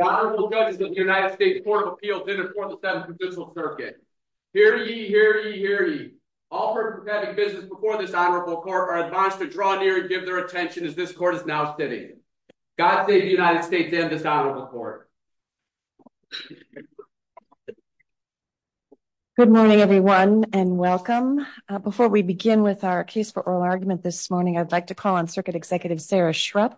Good morning, everyone, and welcome. Before we begin with our case for oral argument this morning, I'd like to call on Circuit Executive Sarah Shrupp,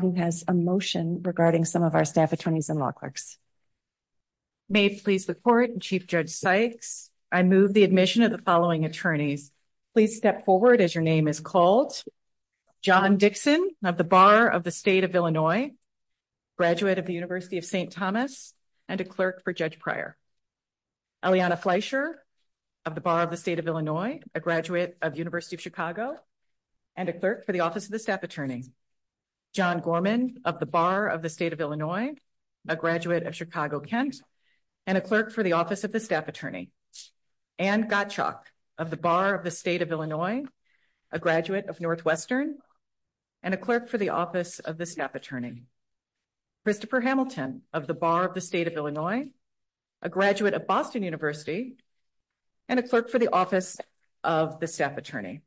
who has a motion regarding some of our staff attorneys and law clerks. Sarah Shrupp May please report, Chief Judge Sykes. I move the admission of the following attorneys. Please step forward as your name is called. John Dixon of the Bar of the State of Illinois, graduate of the University of St. Thomas, and a clerk for Judge Pryor. Elliana Fleisher of the Bar of the State of Illinois, a graduate of the University of Chicago, and a clerk for the Office of the Staff Attorney. John Gorman of the Bar of the State of Illinois, a graduate of Chicago, Kent, and a clerk for the Office of the Staff Attorney. Anne Gottschalk of the Bar of the State of Illinois, a graduate of Northwestern, and a clerk for the Office of the Staff Attorney. Christopher Hamilton of the Bar of the State of Illinois, a graduate of Boston University, and a clerk for the Office of the Staff Attorney.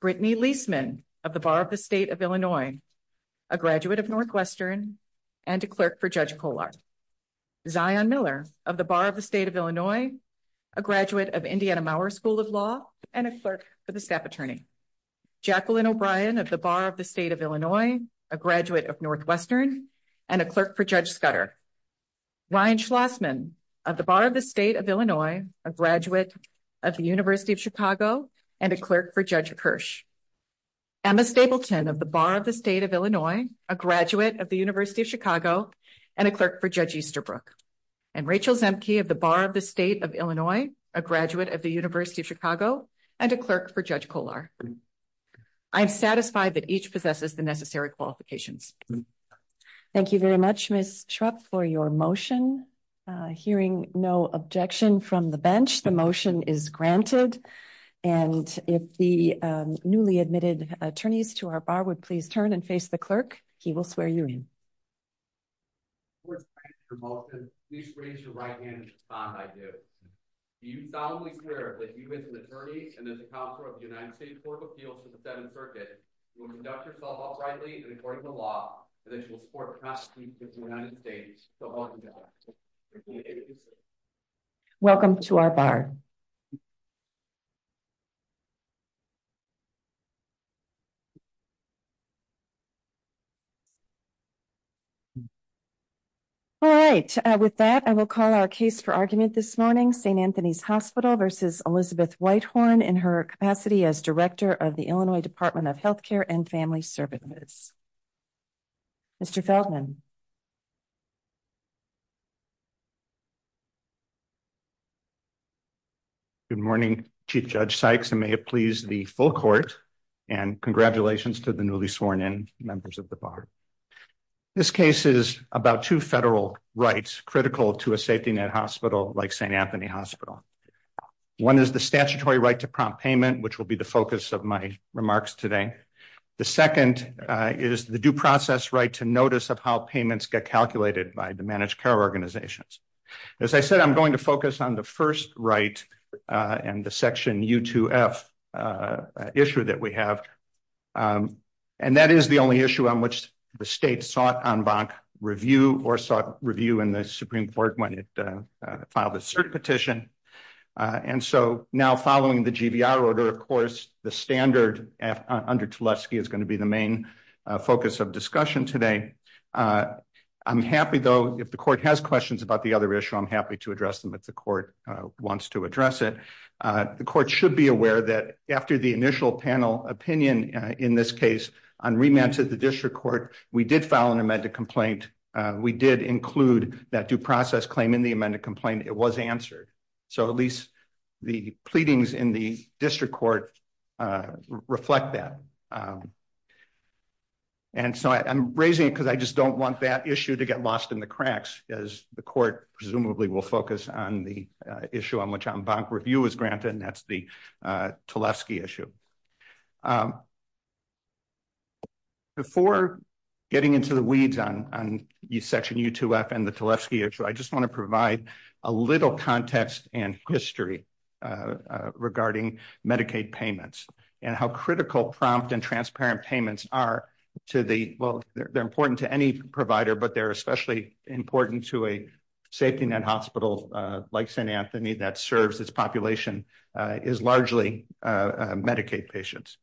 Brittany Leisman of the Bar of the State of Illinois, a graduate of Northwestern, and a clerk for Judge Kollar. Zion Miller of the Bar of the State of Illinois, a graduate of Indiana Mauer School of Law, and a clerk for the Staff Attorney. Jacqueline O'Brien of the Bar of the State of Illinois, a graduate of Northwestern, and a clerk for Judge Scudder. Ryan Schlossman of the Bar of the State of Illinois, a graduate of the University of Chicago, and a clerk for Judge Kirsch. Emma Stapleton of the Bar of the State of Illinois, a graduate of the University of Chicago, and a clerk for Judge Easterbrook. Rachel Zemke of the Bar of the State of Illinois, a graduate of the University of Chicago, and a clerk for Judge Kollar. I'm satisfied that each possesses the necessary qualifications. Thank you very much, Ms. Schrupp, for your motion. Hearing no objection from the bench, the motion is granted. And if the newly admitted attorneys to our bar would please turn and face the clerk, he will swear you in. First, thank you for your motion. Please raise your right hand if you're fine by doing it. Do you solemnly swear that you as an attorney and as a counselor of the United States Court of Appeals of the Seventh Circuit will conduct yourself lawfully and according to law and that you will support the past and future of the United States? So, welcome to our bar. Thank you. Welcome to our bar. All right, with that, I will call our case for argument this morning, St. Anthony's Hospital versus Elizabeth Whitehorn in her capacity as Director of the Illinois Department of Health Care and Family Services. Mr. Feldman. Good morning, Chief Judge Sykes, and may it please the full court and congratulations to the newly sworn in members of the bar. This case is about two federal rights critical to a safety net hospital like St. Anthony Hospital. One is the statutory right to prompt payment, which will be the focus of my remarks today. The second is the due process right to notice of how payments get calculated by the managed care organizations. As I said, I'm going to focus on the first right and the section U2F issue that we have. And that is the only issue on which the state sought en banc review or sought review in the Supreme Court when it filed a cert petition. And so now following the GVR order, of course, the standard under Tlesky is going to be the main focus of discussion today. I'm happy though, if the court has questions about the other issue, I'm happy to address them if the court wants to address it. The court should be aware that after the initial panel opinion in this case on remand to the district court, we did file an amended complaint. We did include that due process claim in the amended complaint, it was answered. So at least the pleadings in the district court reflect that. And so I'm raising it because I just don't want that issue to get lost in the cracks as the court presumably will focus on the issue on which en banc review is granted and that's the Tlesky issue. Before getting into the weeds on section U2F and the Tlesky issue, I just wanna provide a little context and history regarding Medicaid payments and how critical prompt and transparent payments are to the, well, they're important to any provider, but they're especially important to a safety net hospital like St. Anthony that serves its population is largely Medicaid patients.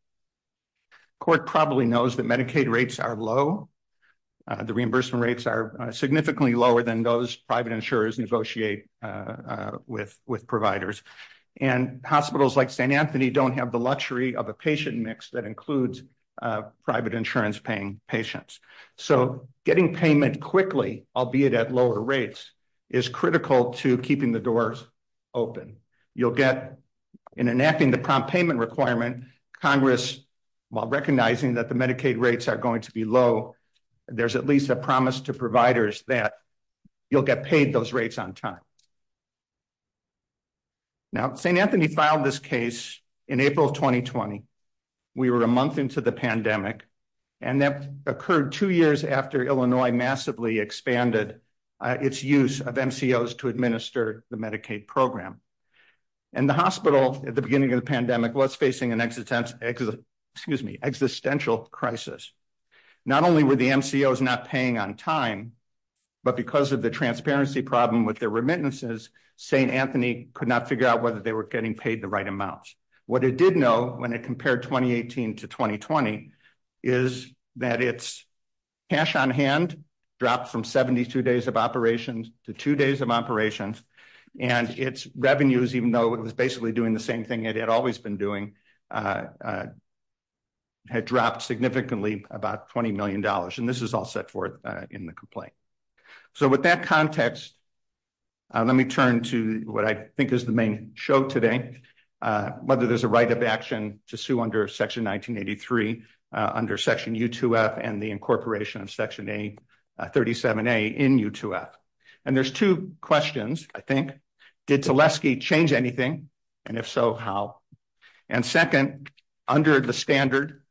Court probably knows that Medicaid rates are low. The reimbursement rates are significantly lower than those private insurers negotiate with providers. And hospitals like St. Anthony don't have the luxury of a patient mix that includes private insurance paying patients. So getting payment quickly, albeit at lower rates is critical to keeping the doors open. You'll get in enacting the prompt payment requirement, Congress, while recognizing that the Medicaid rates are going to be low, there's at least a promise to providers that you'll get paid those rates on time. Now, St. Anthony filed this case in April, 2020. We were a month into the pandemic and that occurred two years after Illinois massively expanded its use of MCOs to administer the Medicaid program. And the hospital at the beginning of the pandemic was facing an existential crisis. Not only were the MCOs not paying on time, but because of the transparency problem with their remittances, St. Anthony could not figure out whether they were getting paid the right amounts. What it did know when it compared 2018 to 2020 is that it's cash on hand, dropped from 72 days of operations to two days of operations and its revenues, even though it was basically doing the same thing it had always been doing, had dropped significantly, about $20 million. And this is all set forth in the complaint. So with that context, let me turn to what I think is the main show today, whether there's a right of action to sue under section 1983, under section U2F and the incorporation of section A, 37A in U2F. And there's two questions, I think. Did Tulesky change anything? And if so, how? And second, under the standard,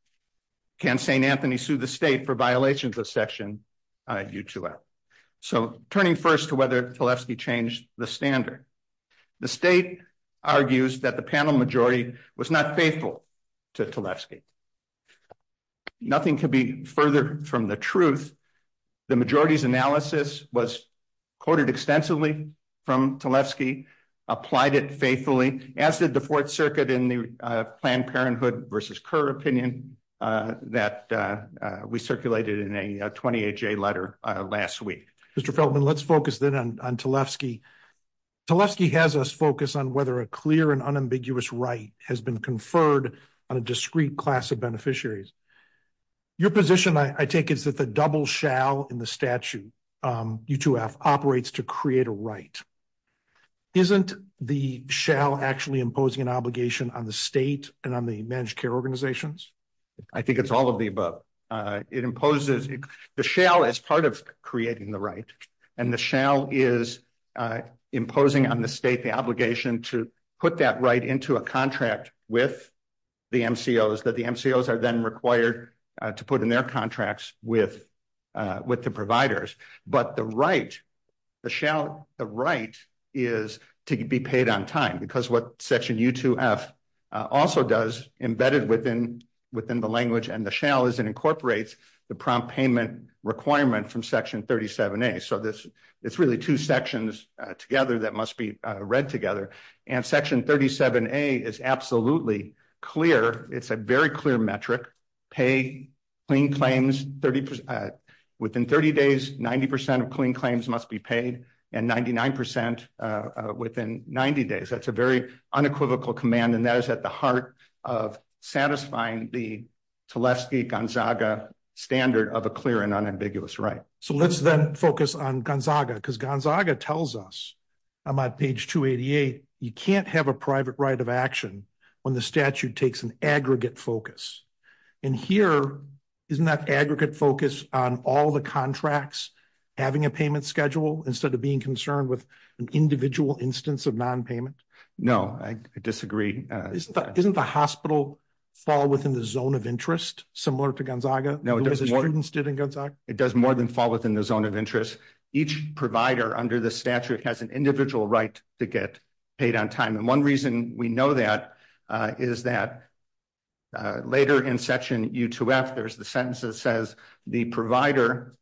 can St. Anthony sue the state for violations of section U2F? So turning first to whether Tulesky changed the standard. The state argues that the panel majority was not faithful to Tulesky. Nothing could be further from the truth. The majority's analysis was quoted extensively from Tulesky, applied it faithfully, as did the Fourth Circuit in the Planned Parenthood versus Kerr opinion that we circulated in a 28-J letter last week. Mr. Feldman, let's focus then on Tulesky. Tulesky has us focus on whether a clear and unambiguous right has been conferred on a discrete class of beneficiaries. Your position, I take, is that the double shall in the statute, U2F, operates to create a right. Isn't the shall actually imposing an obligation on the state and on the managed care organizations? I think it's all of the above. It imposes, the shall is part of creating the right. And the shall is imposing on the state the obligation to put that right into a contract with the MCOs that the MCOs are then required to put in their contracts with the providers. But the right, the shall, the right is to be paid on time because what section U2F also does, embedded within the language and the shall, is it incorporates the prompt payment requirement from section 37A. So it's really two sections together that must be read together. And section 37A is absolutely clear. It's a very clear metric. Pay, clean claims, within 30 days, 90% of clean claims must be paid, and 99% within 90 days. That's a very unequivocal command, and that is at the heart of satisfying the Teleski-Gonzaga standard of a clear and unambiguous right. So let's then focus on Gonzaga because Gonzaga tells us, on my page 288, you can't have a private right of action when the statute takes an aggregate focus. And here, isn't that aggregate focus on all the contracts having a payment schedule instead of being concerned with an individual instance of non-payment? No, I disagree. Doesn't the hospital fall within the zone of interest, similar to Gonzaga? No, it doesn't. As students did in Gonzaga? It does more than fall within the zone of interest. Each provider under the statute has an individual right to get paid on time. And one reason we know that is that later in section U2F, there's the sentence that says, the provider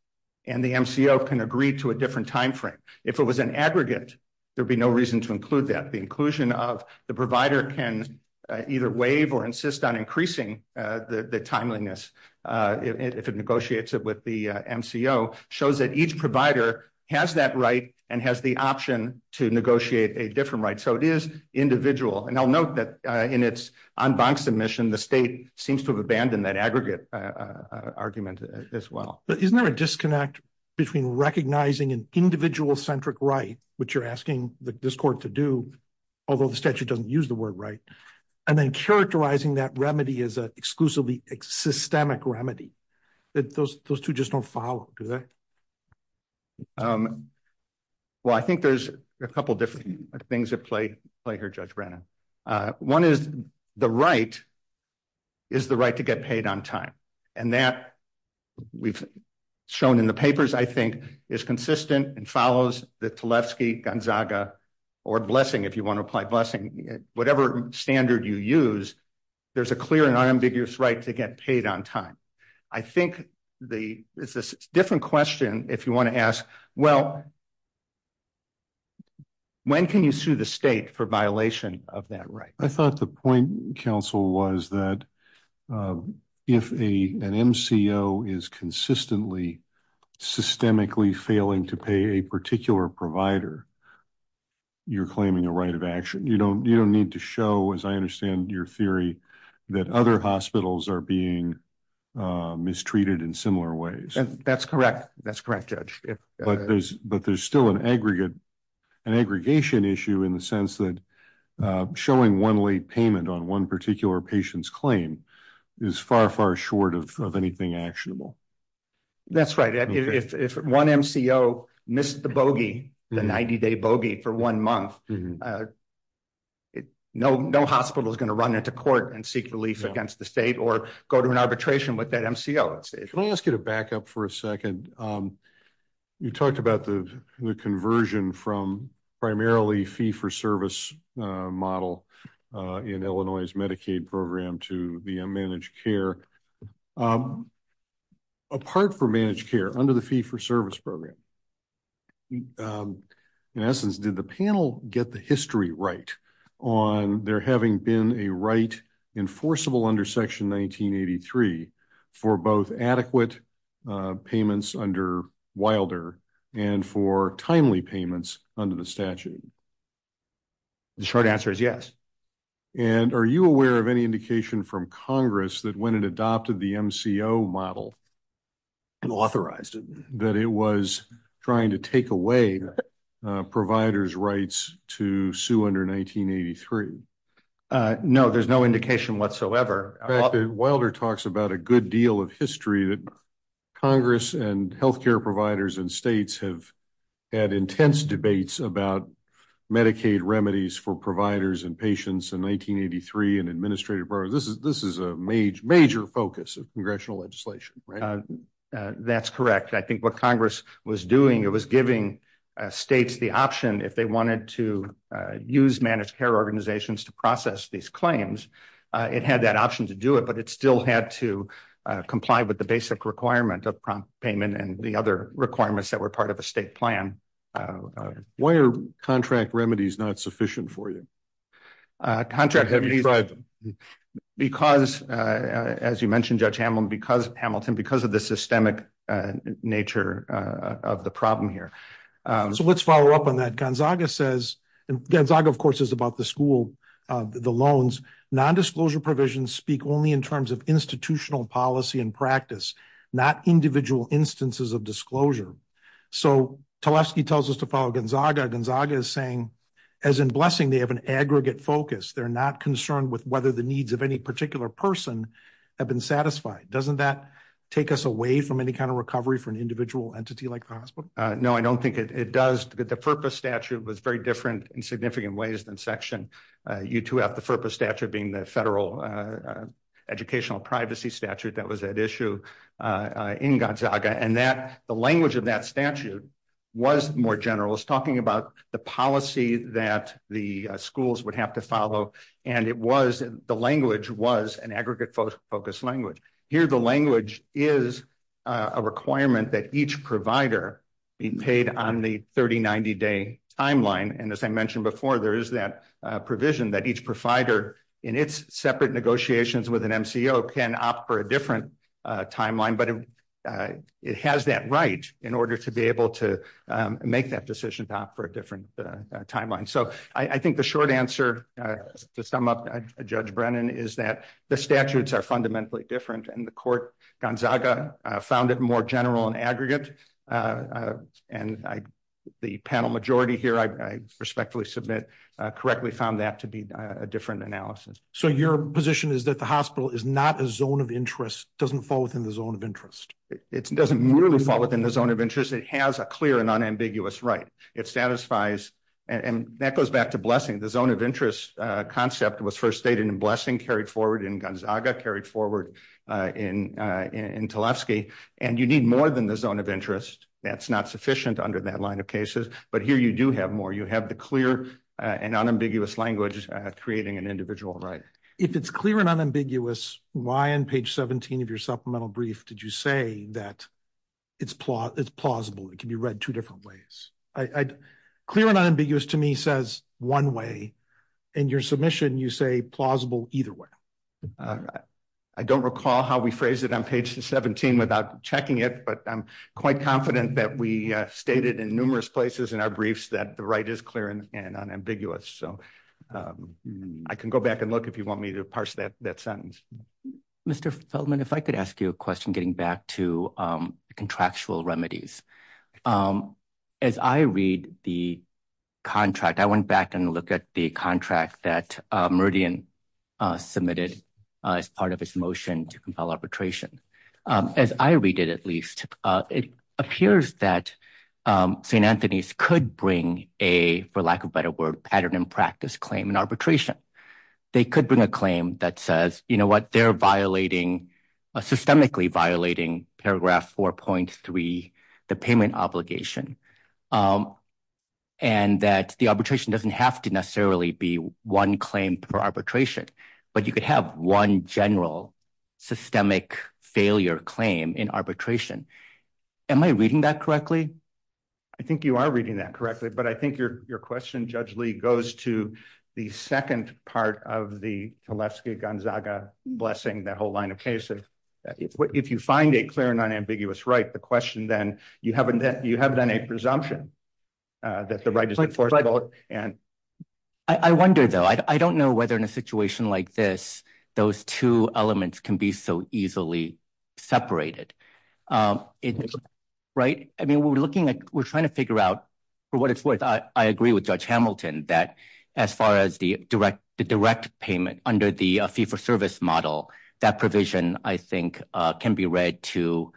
and the MCO can agree to a different timeframe. If it was an aggregate, there'd be no reason to include that. The inclusion of the provider can either waive or insist on increasing the timeliness if it negotiates it with the MCO shows that each provider has that right and has the option to negotiate a different right. So it is individual. And I'll note that in its en banc submission, the state seems to have abandoned that aggregate argument as well. But isn't there a disconnect between recognizing an individual-centric right, which you're asking this court to do, although the statute doesn't use the word right, and then characterizing that remedy as a exclusively systemic remedy that those two just don't follow, do they? Well, I think there's a couple different things at play here, Judge Brennan. One is the right is the right to get paid on time. And that we've shown in the papers, I think, is consistent and follows the Tlefsky-Gonzaga or blessing, if you wanna apply blessing, whatever standard you use, there's a clear and ambiguous right to get paid on time. I think it's a different question if you wanna ask, well, when can you sue the state for violation of that right? I thought the point, counsel, was that if an MCO is consistently, systemically failing to pay a particular provider, you're claiming a right of action. You don't need to show, as I understand your theory, that other hospitals are being mistreated in similar ways. That's correct. That's correct, Judge. But there's still an aggregation issue in the sense that showing one-way payment on one particular patient's claim is far, far short of anything actionable. That's right. If one MCO missed the bogey, the 90-day bogey for one month, no hospital is gonna run into court and seek relief against the state or go to an arbitration with that MCO. Can I ask you to back up for a second? You talked about the conversion from primarily fee-for-service model in Illinois' Medicaid program to the managed care. Apart from managed care, under the fee-for-service program, in essence, did the panel get the history right on there having been a right enforceable under Section 1983 for both adequate payments under Wilder and for timely payments under the statute? The short answer is yes. And are you aware of any indication from Congress that when it adopted the MCO model and authorized it, that it was trying to take away providers' rights to sue under 1983? No, there's no indication whatsoever. Wilder talks about a good deal of history that Congress and healthcare providers and states have had intense debates about Medicaid remedies for providers and patients in 1983 and administrative bar. This is a major focus of congressional legislation. That's correct. I think what Congress was doing, it was giving states the option, if they wanted to use managed care organizations to process these claims, it had that option to do it, but it still had to comply with the basic requirement of prompt payment and the other requirements that were part of a state plan. Why are contract remedies not sufficient for you? Contract remedies, because, as you mentioned, Judge Hamilton, because of the systemic nature of the problem here. So let's follow up on that. Gonzaga says, and Gonzaga, of course, is about the school, the loans. Non-disclosure provisions speak only in terms of institutional policy and practice, not individual instances of disclosure. So Teleski tells us to follow Gonzaga. Gonzaga is saying, as in Blessing, they have an aggregate focus. They're not concerned with whether the needs of any particular person have been satisfied. Doesn't that take us away from any kind of recovery for an individual entity like Congress? No, I don't think it does, but the FERPA statute was very different in significant ways than Section U2F, the FERPA statute being the federal educational privacy statute that was at issue in Gonzaga, and the language of that statute was more general. It's talking about the policy that the schools would have to follow, and the language was an aggregate focus language. Here, the language is a requirement that each provider be paid on the 30-90 day timeline, and as I mentioned before, there is that provision that each provider in its separate negotiations with an MCO can opt for a different timeline, but it has that right in order to be able to make that decision to opt for a different timeline. So I think the short answer to sum up Judge Brennan is that the statutes are fundamentally different, and the court, Gonzaga, found it more general and aggregate, and the panel majority here, I respectfully submit, correctly found that to be a different analysis. So your position is that the hospital is not a zone of interest, doesn't fall within the zone of interest? It doesn't really fall within the zone of interest. It has a clear and unambiguous right. It satisfies, and that goes back to blessing. The zone of interest concept was first stated in blessing, carried forward in Gonzaga, carried forward in Tlaibsky, and you need more than the zone of interest. That's not sufficient under that line of cases, but here you do have more. You have the clear and unambiguous language creating an individual right. If it's clear and unambiguous, why on page 17 of your supplemental brief did you say that it's plausible, it can be read two different ways? I, clear and unambiguous to me says one way. In your submission, you say plausible either way. I don't recall how we phrased it on page 17 without checking it, but I'm quite confident that we stated in numerous places in our briefs that the right is clear and unambiguous. So I can go back and look if you want me to parse that sentence. Mr. Feldman, if I could ask you a question getting back to contractual remedies. As I read the contract, I went back and looked at the contract that Meridian submitted as part of its motion to compel arbitration. As I read it, at least, it appears that St. Anthony's could bring a, for lack of a better word, pattern and practice claim in arbitration. They could bring a claim that says, you know what, they're violating, systemically violating paragraph 4.3 of the statute. The payment obligation. And that the arbitration doesn't have to necessarily be one claim per arbitration, but you could have one general systemic failure claim in arbitration. Am I reading that correctly? I think you are reading that correctly, but I think your question, Judge Lee, goes to the second part of the Tlesky-Gonzaga blessing, that whole line of case. If you find a clear and unambiguous right, like the question then, you have then a presumption that the right is enforceable and... I wonder though, I don't know whether in a situation like this, those two elements can be so easily separated. Right? I mean, we're looking at, we're trying to figure out for what it's worth. I agree with Judge Hamilton that as far as the direct payment under the fee-for-service model, that provision, I think, can be read to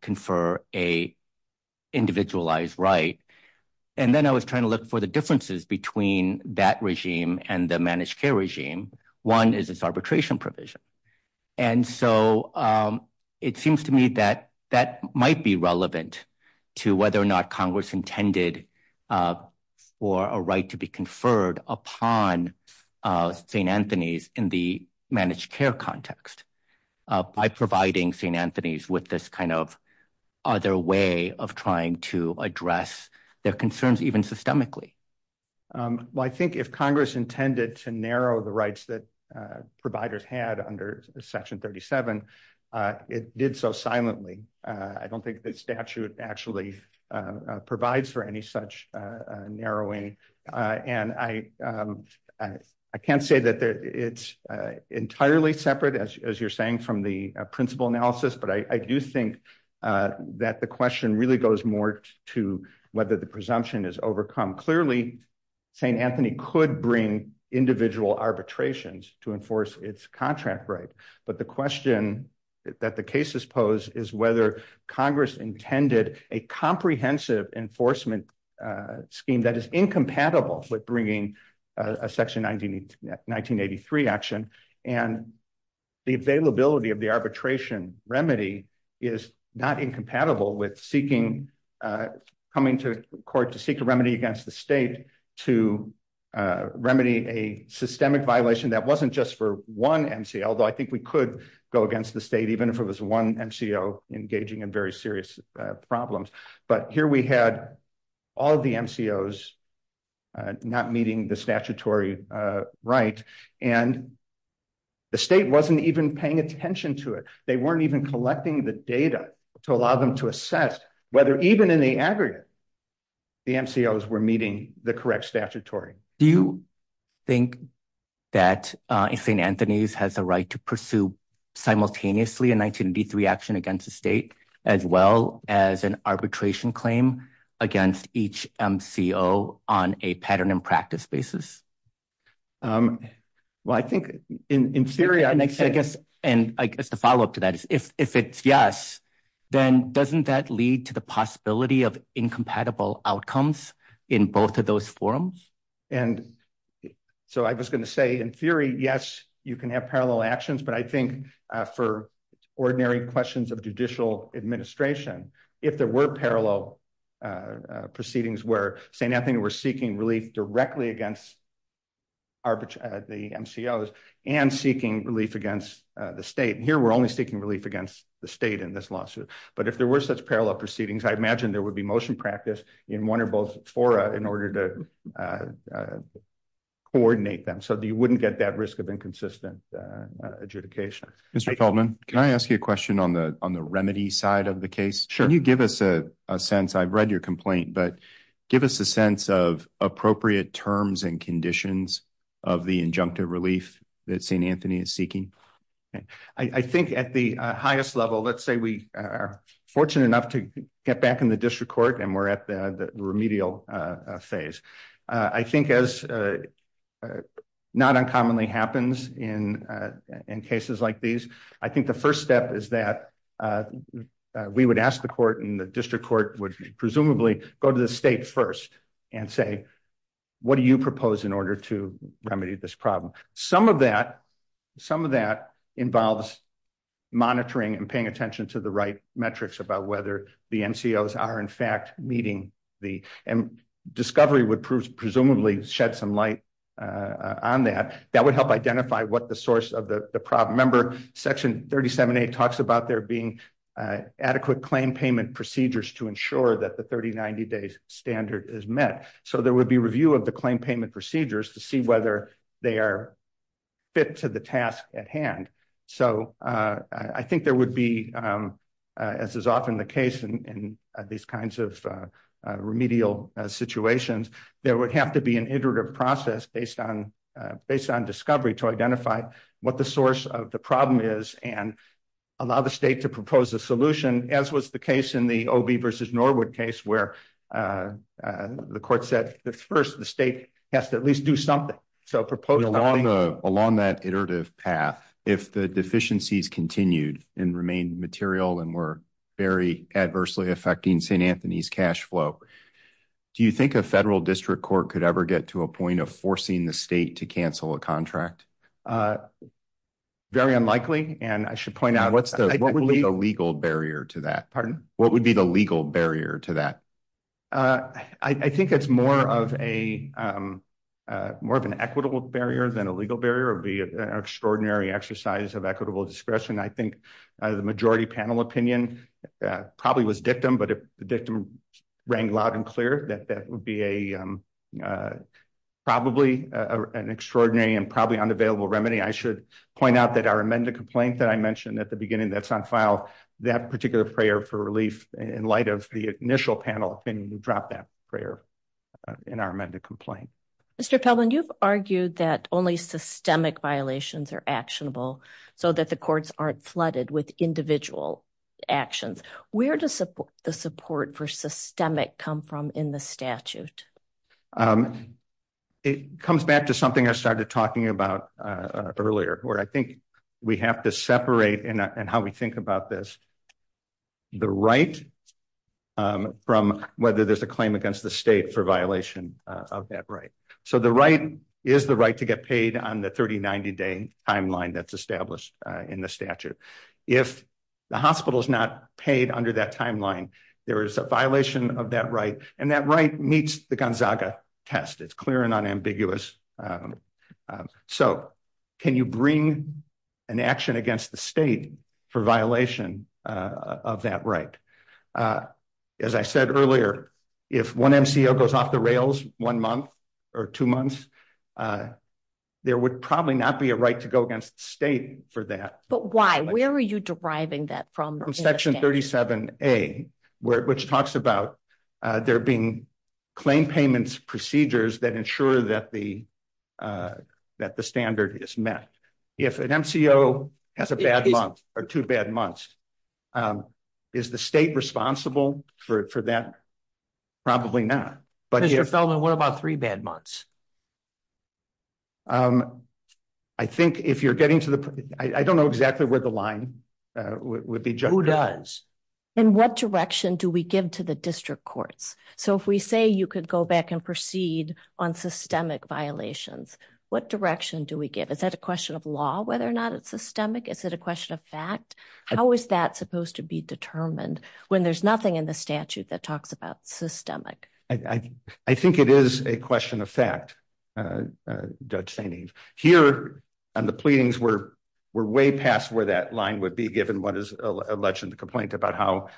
confer a individualized right. And then I was trying to look for the differences between that regime and the managed care regime. One is this arbitration provision. And so it seems to me that that might be relevant to whether or not Congress intended for a right to be conferred upon St. Anthony's in the managed care context. By providing St. Anthony's with this kind of other way of trying to address their concerns even systemically. Well, I think if Congress intended to narrow the rights that providers had under Section 37, it did so silently. I don't think the statute actually provides for any such narrowing. And I can't say that it's entirely separate as you're saying from the principal analysis, but I do think that the question really goes more to whether the presumption is overcome. Clearly, St. Anthony could bring individual arbitrations to enforce its contract right. But the question that the cases pose is whether Congress intended a comprehensive enforcement scheme that is incompatible with bringing a Section 1983 action. And the availability of the arbitration remedy is not incompatible with coming to court to seek a remedy against the state to remedy a systemic violation that wasn't just for one NCO. Although I think we could go against the state even if it was one NCO engaging in very serious problems. But here we had all of the NCOs not meeting the statutory right. And the state wasn't even paying attention to it. They weren't even collecting the data to allow them to assess whether even in the aggregate the NCOs were meeting the correct statutory. Do you think that St. Anthony's has the right to pursue simultaneously a 1983 action against the state as well as an arbitration claim against each NCO on a pattern and practice basis? Well, I think in theory, I guess, and I guess the follow-up to that is if it's yes, then doesn't that lead to the possibility of incompatible outcomes in both of those forums? And so I was gonna say in theory, yes, you can have parallel actions, but I think for ordinary questions of judicial administration, if there were parallel proceedings where St. Anthony were seeking relief directly against the NCOs and seeking relief against the state, and here we're only seeking relief against the state in this lawsuit, but if there were such parallel proceedings, I imagine there would be motion practice in one or both fora in order to coordinate them so that you wouldn't get that risk of inconsistent adjudication. Mr. Feldman, can I ask you a question on the remedy side of the case? Sure. Can you give us a sense, I've read your complaint, but give us a sense of appropriate terms and conditions of the injunctive relief that St. Anthony is seeking? I think at the highest level, let's say we are fortunate enough to get back in the district court and we're at the remedial phase. I think as not uncommonly happens in cases like these, I think the first step is that we would ask the court and the district court would presumably go to the state first and say, what do you propose in order to remedy this problem? Some of that involves monitoring and paying attention to the right metrics about whether the NCOs are in fact meeting the, and discovery would presumably shed some light on that. That would help identify what the source of the problem. Remember section 37A talks about there being adequate claim payment procedures to ensure that the 30, 90 days standard is met. So there would be review of the claim payment procedures to see whether they are fit to the task at hand. So I think there would be, as is often the case in these kinds of remedial situations, there would have to be an iterative process based on discovery to identify what the source of the problem is and allow the state to propose a solution as was the case in the OB versus Norwood case where the court said that first, the state has to at least do something. So propose- Along that iterative path, if the deficiencies continued and remained material and were very adversely affecting St. Anthony's cashflow, do you think a federal district court could ever get to a point of forcing the state to cancel a contract? Very unlikely. And I should point out- What would be the legal barrier to that? What would be the legal barrier to that? I think it's more of an equitable barrier than a legal barrier. It would be an extraordinary exercise of equitable discretion. I think the majority panel opinion probably was dictum, but if the dictum rang loud and clear, that would be probably an extraordinary and probably unavailable remedy. I should point out that our amended complaint that I mentioned at the beginning that's on file, that particular prayer for relief in light of the initial panel opinion, we dropped that prayer in our amended complaint. Mr. Kellman, you've argued that only systemic violations are actionable so that the courts aren't flooded with individual actions. Where does the support for systemic come from in the statute? It comes back to something I started talking about earlier, where I think we have to separate, and how we think about this, the right from whether there's a claim against the state for violation of that right. So the right is the right to get paid on the 30-90 day timeline that's established in the statute. If the hospital's not paid under that timeline, there is a violation of that right, and that right meets the Gonzaga test. It's clear and unambiguous. So can you bring an action against the state for violation of that right? As I said earlier, if one MCO goes off the rails one month or two months, there would probably not be a right to go against the state for that. But why? Where are you deriving that from? From section 37A, which talks about there being claim payments procedures that ensure that the standard is met. If an MCO has a bad month or two bad months, is the state responsible for that? Probably not. But if- Mr. Feldman, what about three bad months? I think if you're getting to the, I don't know exactly where the line would be- Who does? In what direction do we give to the district courts? So if we say you could go back and proceed on systemic violations, what direction do we give? Is that a question of law, whether or not it's systemic? Is it a question of fact? How is that supposed to be determined when there's nothing in the statute that talks about systemic? I think it is a question of fact, Judge Saini. Here on the pleadings, we're way past where that line would be, given what is alleged in the complaint about how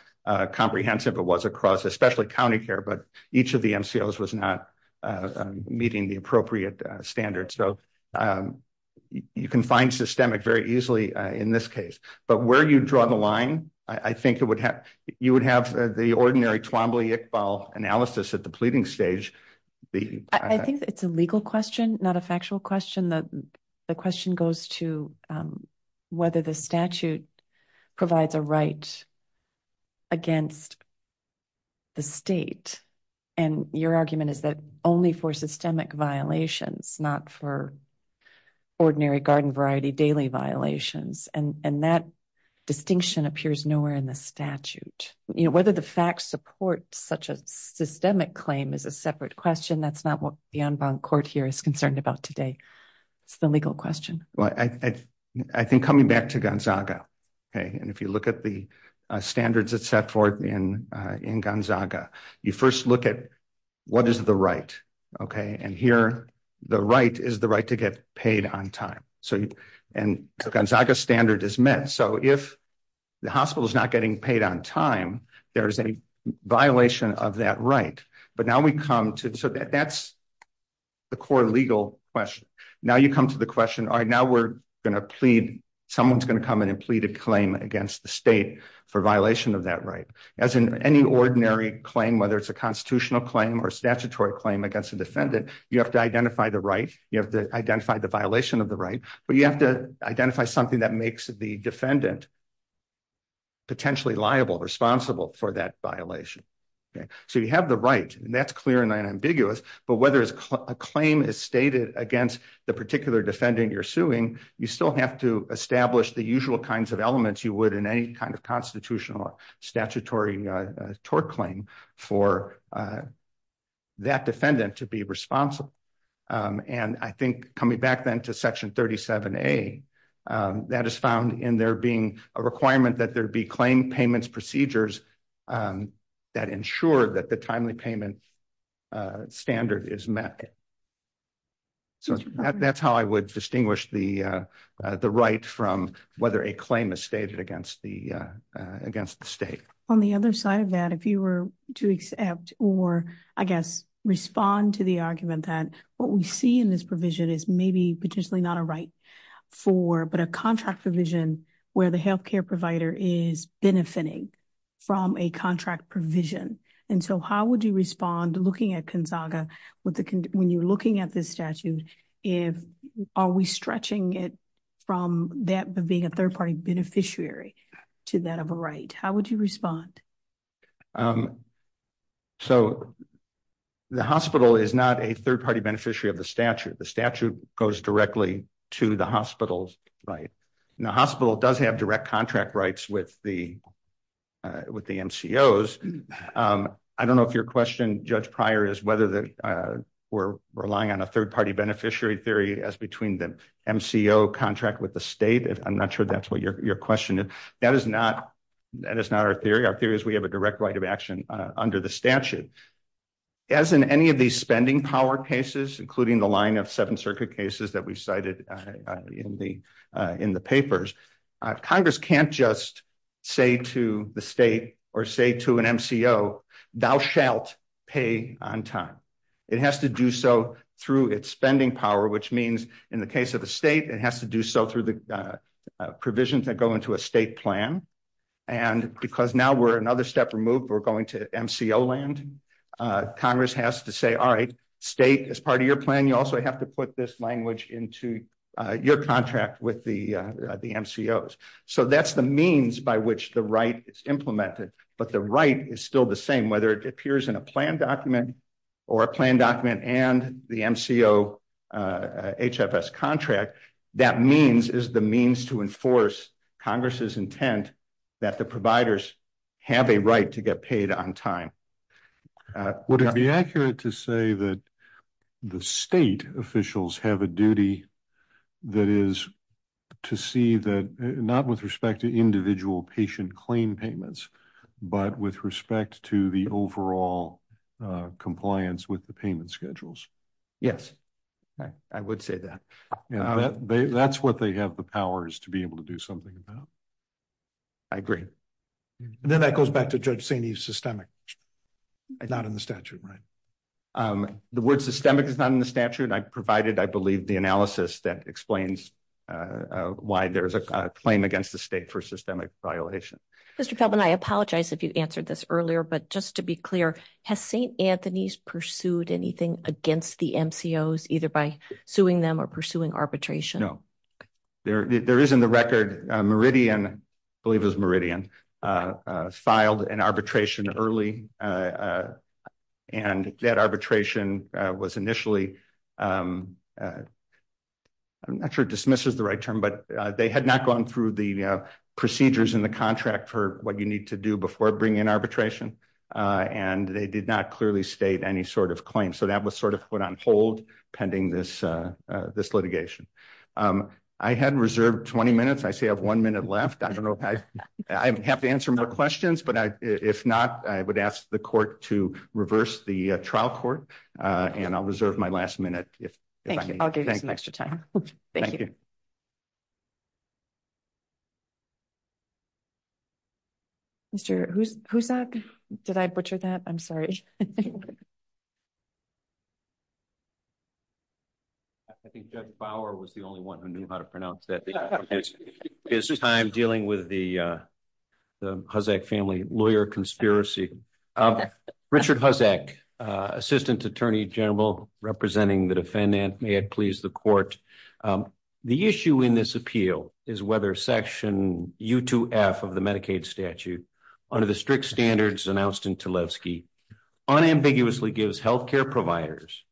comprehensive it was across, especially county care, but each of the MCOs was not meeting the appropriate standards. So you can find systemic very easily in this case. But where you draw the line, I think it would have, you would have the ordinary Twombly-Iqbal analysis at the pleading stage. I think it's a legal question, not a factual question. The question goes to whether the statute provides a right against the state. And your argument is that only for systemic violations, not for ordinary garden variety daily violations. And that distinction appears nowhere in the statute. Whether the facts support such a systemic claim is a separate question. That's not what the unbound court here is concerned about today. It's the legal question. Well, I think coming back to Gonzaga, okay, and if you look at the standards that set forth in Gonzaga, you first look at what is the right, okay? And here, the right is the right to get paid on time. So, and Gonzaga standard is met. So if the hospital is not getting paid on time, there is a violation of that right. But now we come to, so that's the core legal question. Now you come to the question, all right, now we're gonna plead, someone's gonna come in and plead a claim against the state for violation of that right. As in any ordinary claim, whether it's a constitutional claim or statutory claim against a defendant, you have to identify the right, you have to identify the violation of the right, but you have to identify something that makes the defendant potentially liable, responsible for that violation, okay? So you have the right, and that's clear and ambiguous, but whether a claim is stated against the particular defendant you're suing, you still have to establish the usual kinds of elements you would in any kind of constitutional statutory tort claim for that defendant to be responsible. And I think coming back then to section 37A, that is found in there being a requirement that there be claim payments procedures that ensure that the timely payment standard is met. So that's how I would distinguish the right from whether a claim is stated against the state. On the other side of that, if you were to accept, or I guess respond to the argument that what we see in this provision is maybe potentially not a right for, but a contract provision where the healthcare provider is benefiting from a contract provision. And so how would you respond looking at Kinsaga, when you're looking at this statute, are we stretching it from that being a third-party beneficiary to that of a right? How would you respond? So the hospital is not a third-party beneficiary of the statute. The statute goes directly to the hospital's right. And the hospital does have direct contract rights with the MCOs. I don't know if your question, Judge Pryor, is whether we're relying on a third-party beneficiary theory as between the MCO contract with the state. I'm not sure that's what your question is. That is not our theory. Our theory is we have a direct right of action under the statute. As in any of these spending power cases, including the line of Seventh Circuit cases that we cited in the papers, Congress can't just say to the state or say to an MCO, thou shalt pay on time. It has to do so through its spending power, which means in the case of the state, it has to do so through the provisions that go into a state plan. And because now we're another step removed, we're going to MCO land. Congress has to say, all right, state is part of your plan. And you also have to put this language into your contract with the MCOs. So that's the means by which the right is implemented. But the right is still the same, whether it appears in a plan document or a plan document and the MCO HFS contract. That means is the means to enforce Congress's intent that the providers have a right to get paid on time. Would it be accurate to say that the state officials have a duty that is to see that, not with respect to individual patient claim payments, but with respect to the overall compliance with the payment schedules? Yes, I would say that. That's what they have the powers to be able to do something about. I agree. And then that goes back to Judge Saney's systemic, not in the statute, right? The word systemic is not in the statute. I provided, I believe, the analysis that explains why there's a claim against the state for systemic violation. Mr. Feldman, I apologize if you answered this earlier, but just to be clear, has St. Anthony's pursued anything against the MCOs either by suing them or pursuing arbitration? No, there is in the record Meridian, I believe it was Meridian, filed an arbitration early. And that arbitration was initially, I'm not sure dismiss is the right term, but they had not gone through the procedures in the contract for what you need to do before bringing an arbitration. And they did not clearly state any sort of claim. So that was sort of put on hold pending this litigation. I had reserved 20 minutes. I still have one minute left. I don't know if I have to answer more questions, but if not, I would ask the court to reverse the trial court and I'll reserve my last minute if I can. I'll give you some extra time. Thank you. Mr. Hussak, did I butcher that? I'm sorry. I think Judge Bauer was the only one who knew how to pronounce that. This is time dealing with the Hussak family lawyer conspiracy. Richard Hussak, Assistant Attorney General representing the defendant, may it please the court. The issue in this appeal is whether section U2F of the Medicaid statute under the strict standards announced in Tlaibski unambiguously gives healthcare providers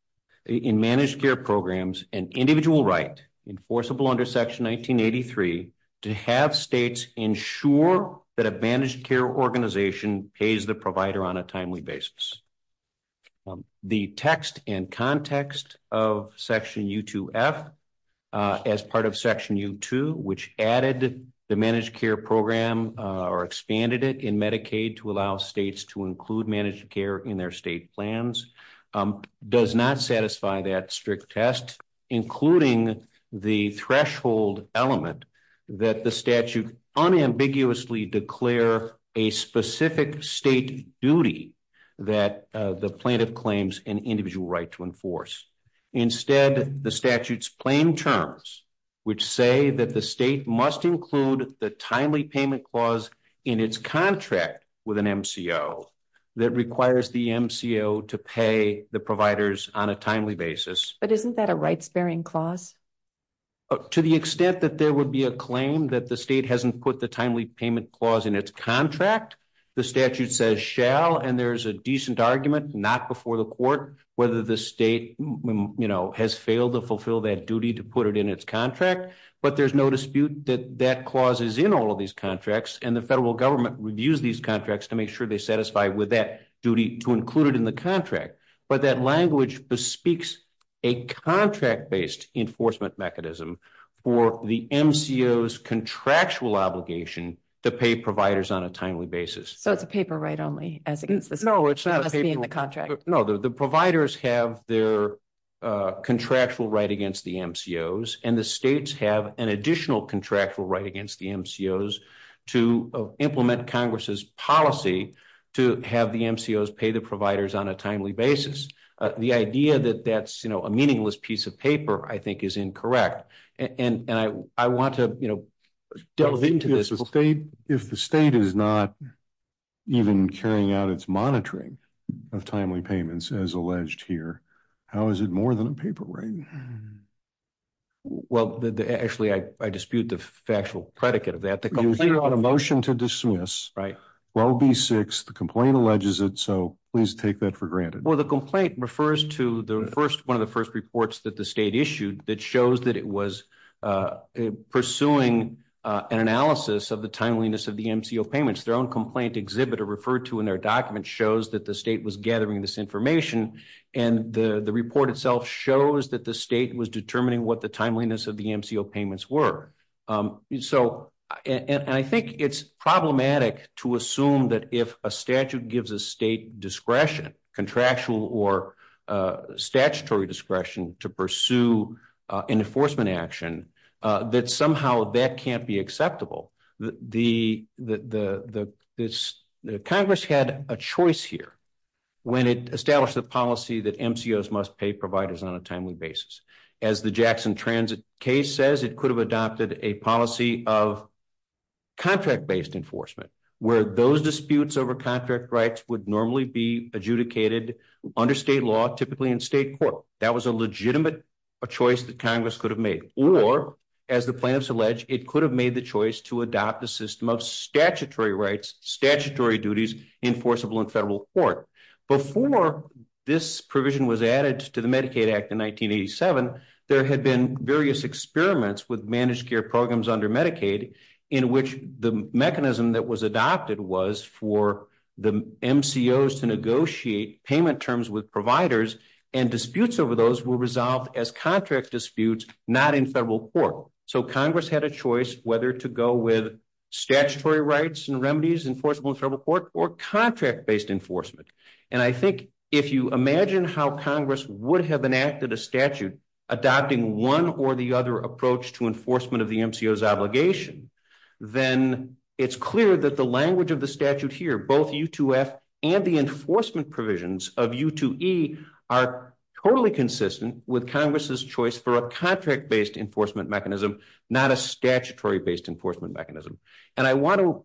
in managed care programs an individual right enforceable under section 1983 to have states ensure that a managed care organization pays the provider on a timely basis. The text and context of section U2F as part of section U2, which added the managed care program or expanded it in Medicaid to allow states to include managed care in their state plans does not satisfy that strict test including the threshold element that the statute unambiguously declare a specific state duty that the plaintiff claims an individual right to enforce. Instead, the statutes plain terms which say that the state must include the timely payment clause in its contract with an MCO that requires the MCO to pay the providers on a timely basis. But isn't that a rights bearing clause? To the extent that there would be a claim that the state hasn't put the timely payment clause in its contract, the statute says shall and there's a decent argument not before the court whether the state has failed to fulfill that duty to put it in its contract. But there's no dispute that that clause is in all of these contracts and the federal government reviews these contracts to make sure they satisfy with that duty to include it in the contract. But that language bespeaks a contract-based enforcement mechanism for the MCO's contractual obligation to pay providers on a timely basis. So it's a paper right only as against the contract. No, the providers have their contractual right against the MCOs and the states have an additional contractual right against the MCOs to implement Congress's policy to have the MCOs pay the providers on a timely basis. The idea that that's a meaningless piece of paper I think is incorrect and I want to delve into this. If the state is not even carrying out its monitoring of timely payments as alleged here, how is it more than a paper right? Well, actually I dispute the factual predicate of that. The motion to dismiss, well be six, the complaint alleges it, so please take that for granted. Well, the complaint refers to the first, one of the first reports that the state issued that shows that it was pursuing an analysis of the timeliness of the MCO payments. Their own complaint exhibit are referred to in their document shows that the state was gathering this information and the report itself shows that the state was determining what the timeliness of the MCO payments were. So, and I think it's problematic to assume that if a statute gives a state discretion, contractual or statutory discretion to pursue an enforcement action, that somehow that can't be acceptable. Congress had a choice here when it established the policy that MCOs must pay providers on a timely basis. As the Jackson Transit case says, it could have adopted a policy of contract-based enforcement, where those disputes over contract rights would normally be adjudicated under state law, typically in state court. That was a legitimate choice that Congress could have made. Or as the plaintiffs allege, it could have made the choice to adopt a system of statutory rights, statutory duties enforceable in federal court. Before this provision was added to the Medicaid Act in 1987, there had been various experiments with managed care programs under Medicaid in which the mechanism that was adopted was for the MCOs to negotiate payment terms with providers and disputes over those were resolved as contract disputes, not in federal court. So Congress had a choice whether to go with statutory rights and remedies enforceable in federal court or contract-based enforcement. And I think if you imagine how Congress would have enacted a statute, adopting one or the other approach to enforcement of the MCOs obligation, then it's clear that the language of the statute here, both U2F and the enforcement provisions of U2E are totally consistent with Congress's choice for a contract-based enforcement mechanism, not a statutory-based enforcement mechanism. And I wanna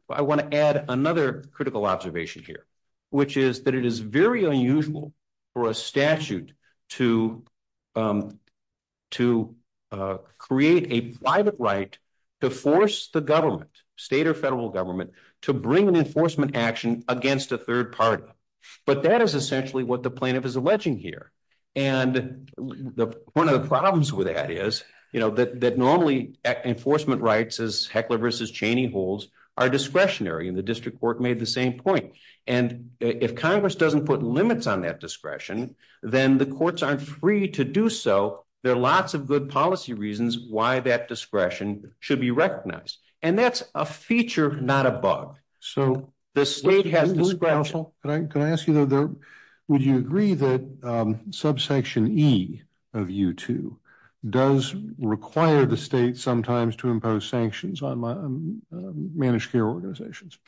add another critical observation here, which is that it is very unusual for a statute to create a private right to force the government, state or federal government, to bring an enforcement action against a third party. But that is essentially what the plaintiff is alleging here. And one of the problems with that is that normally enforcement rights as Heckler v. Cheney holds are discretionary and the district court made the same point. And if Congress doesn't put limits on that discretion, then the courts aren't free to do so. There are lots of good policy reasons why that discretion should be recognized. And that's a feature, not a bug. So the state has discretion. Can I ask you though, would you agree that subsection E of U2 does require the state sometimes to impose sanctions on managed care organizations?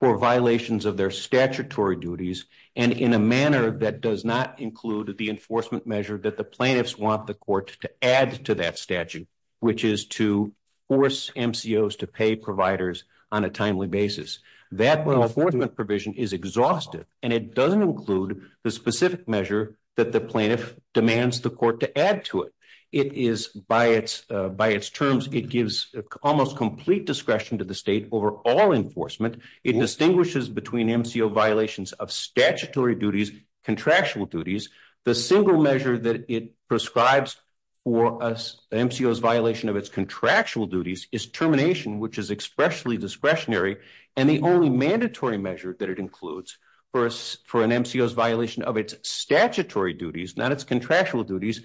For violations of their statutory duties and in a manner that does not include the enforcement measure that the plaintiffs want the courts to add to that statute, which is to force MCOs to pay providers on a timely basis. That enforcement provision is exhaustive and it doesn't include the specific measure that the plaintiff demands the court to add to it. It is, by its terms, it gives almost complete discretion to the state over all enforcement. It distinguishes between MCO violations of statutory duties, contractual duties. The single measure that it prescribes for an MCO's violation of its contractual duties is termination, which is expressly discretionary. And the only mandatory measure that it includes for an MCO's violation of its statutory duties, not its contractual duties,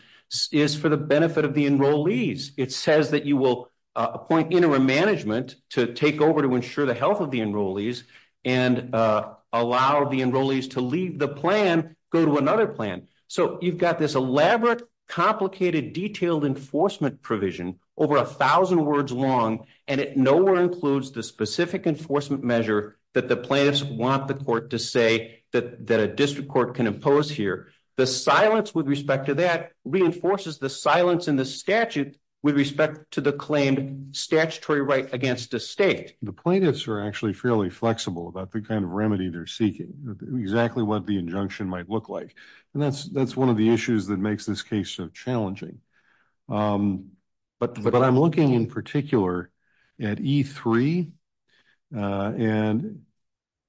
is for the benefit of the enrollees. It says that you will appoint interim management to take over to ensure the health of the enrollees and allow the enrollees to leave the plan, go to another plan. So you've got this elaborate, complicated, detailed enforcement provision over a thousand words long and it nowhere includes the specific enforcement measure that the plaintiffs want the court to say that a district court can impose here. The silence with respect to that reinforces the silence in the statute with respect to the claimed statutory right against the state. The plaintiffs are actually fairly flexible about the kind of remedy they're seeking, exactly what the injunction might look like. And that's one of the issues that makes this case so challenging. But I'm looking in particular at E3 and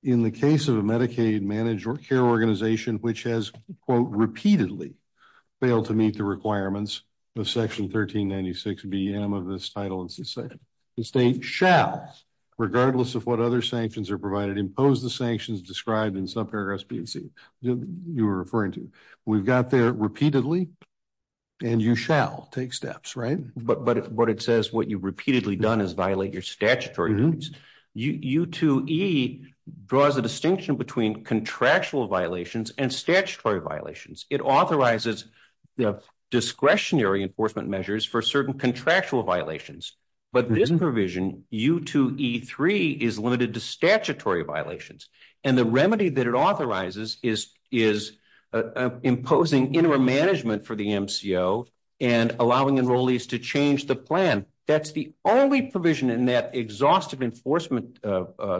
in the case of a Medicaid managed care organization, which has, quote, repeatedly failed to meet the requirements of section 1396 BM of this title, the state shall, regardless of what other sanctions are provided, impose the sanctions described in some paragraphs you were referring to. We've got there repeatedly and you shall take steps, right? But what it says, what you've repeatedly done is violate your statutory rules. U2E draws a distinction between contractual violations and statutory violations. It authorizes the discretionary enforcement measures for certain contractual violations. But this provision, U2E3, is limited to statutory violations. And the remedy that it authorizes is imposing interim management for the MCO and allowing enrollees to change the plan. That's the only provision in that exhaustive enforcement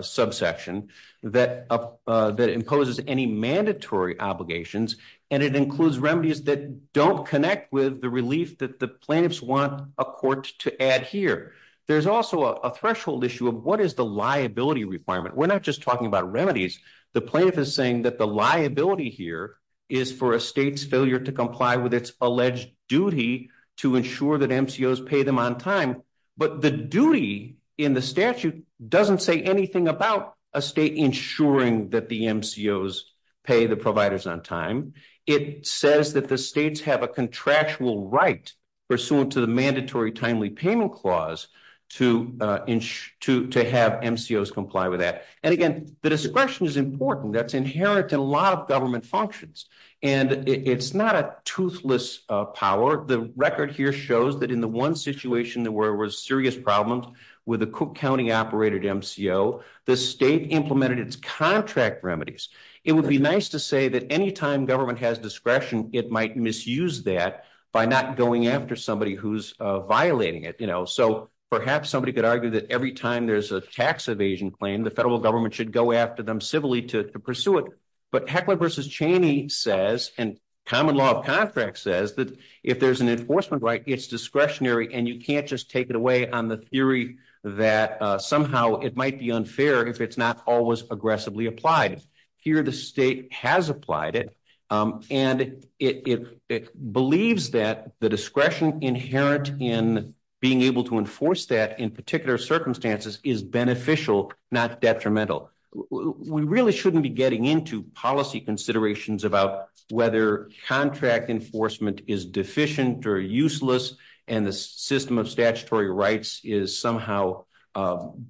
subsection that imposes any mandatory obligations. And it includes remedies that don't connect with the relief that the plaintiffs want a court to add here. There's also a threshold issue of what is the liability requirement. We're not just talking about remedies. The plaintiff is saying that the liability here is for a state's failure to comply with its alleged duty to ensure that MCOs pay them on time. But the duty in the statute doesn't say anything about a state ensuring that the MCOs pay the providers on time. It says that the states have a contractual right pursuant to the mandatory timely payment clause to have MCOs comply with that. And again, the discretion is important. That's inherent in a lot of government functions. And it's not a toothless power. The record here shows that in the one situation where there were serious problems with a Cook County-operated MCO, the state implemented its contract remedies. It would be nice to say that anytime government has discretion, it might misuse that by not going after somebody who's violating it. So perhaps somebody could argue that every time there's a tax evasion claim, the federal government should go after them civilly to pursue it. But Heckler v. Cheney says, and common law of contract says, that if there's an enforcement right, it's discretionary, and you can't just take it away on the theory that somehow it might be unfair if it's not always aggressively applied. Here, the state has applied it. And it believes that the discretion inherent in being able to enforce that in particular circumstances is beneficial, not detrimental. We really shouldn't be getting into policy considerations about whether contract enforcement is deficient or useless and the system of statutory rights is somehow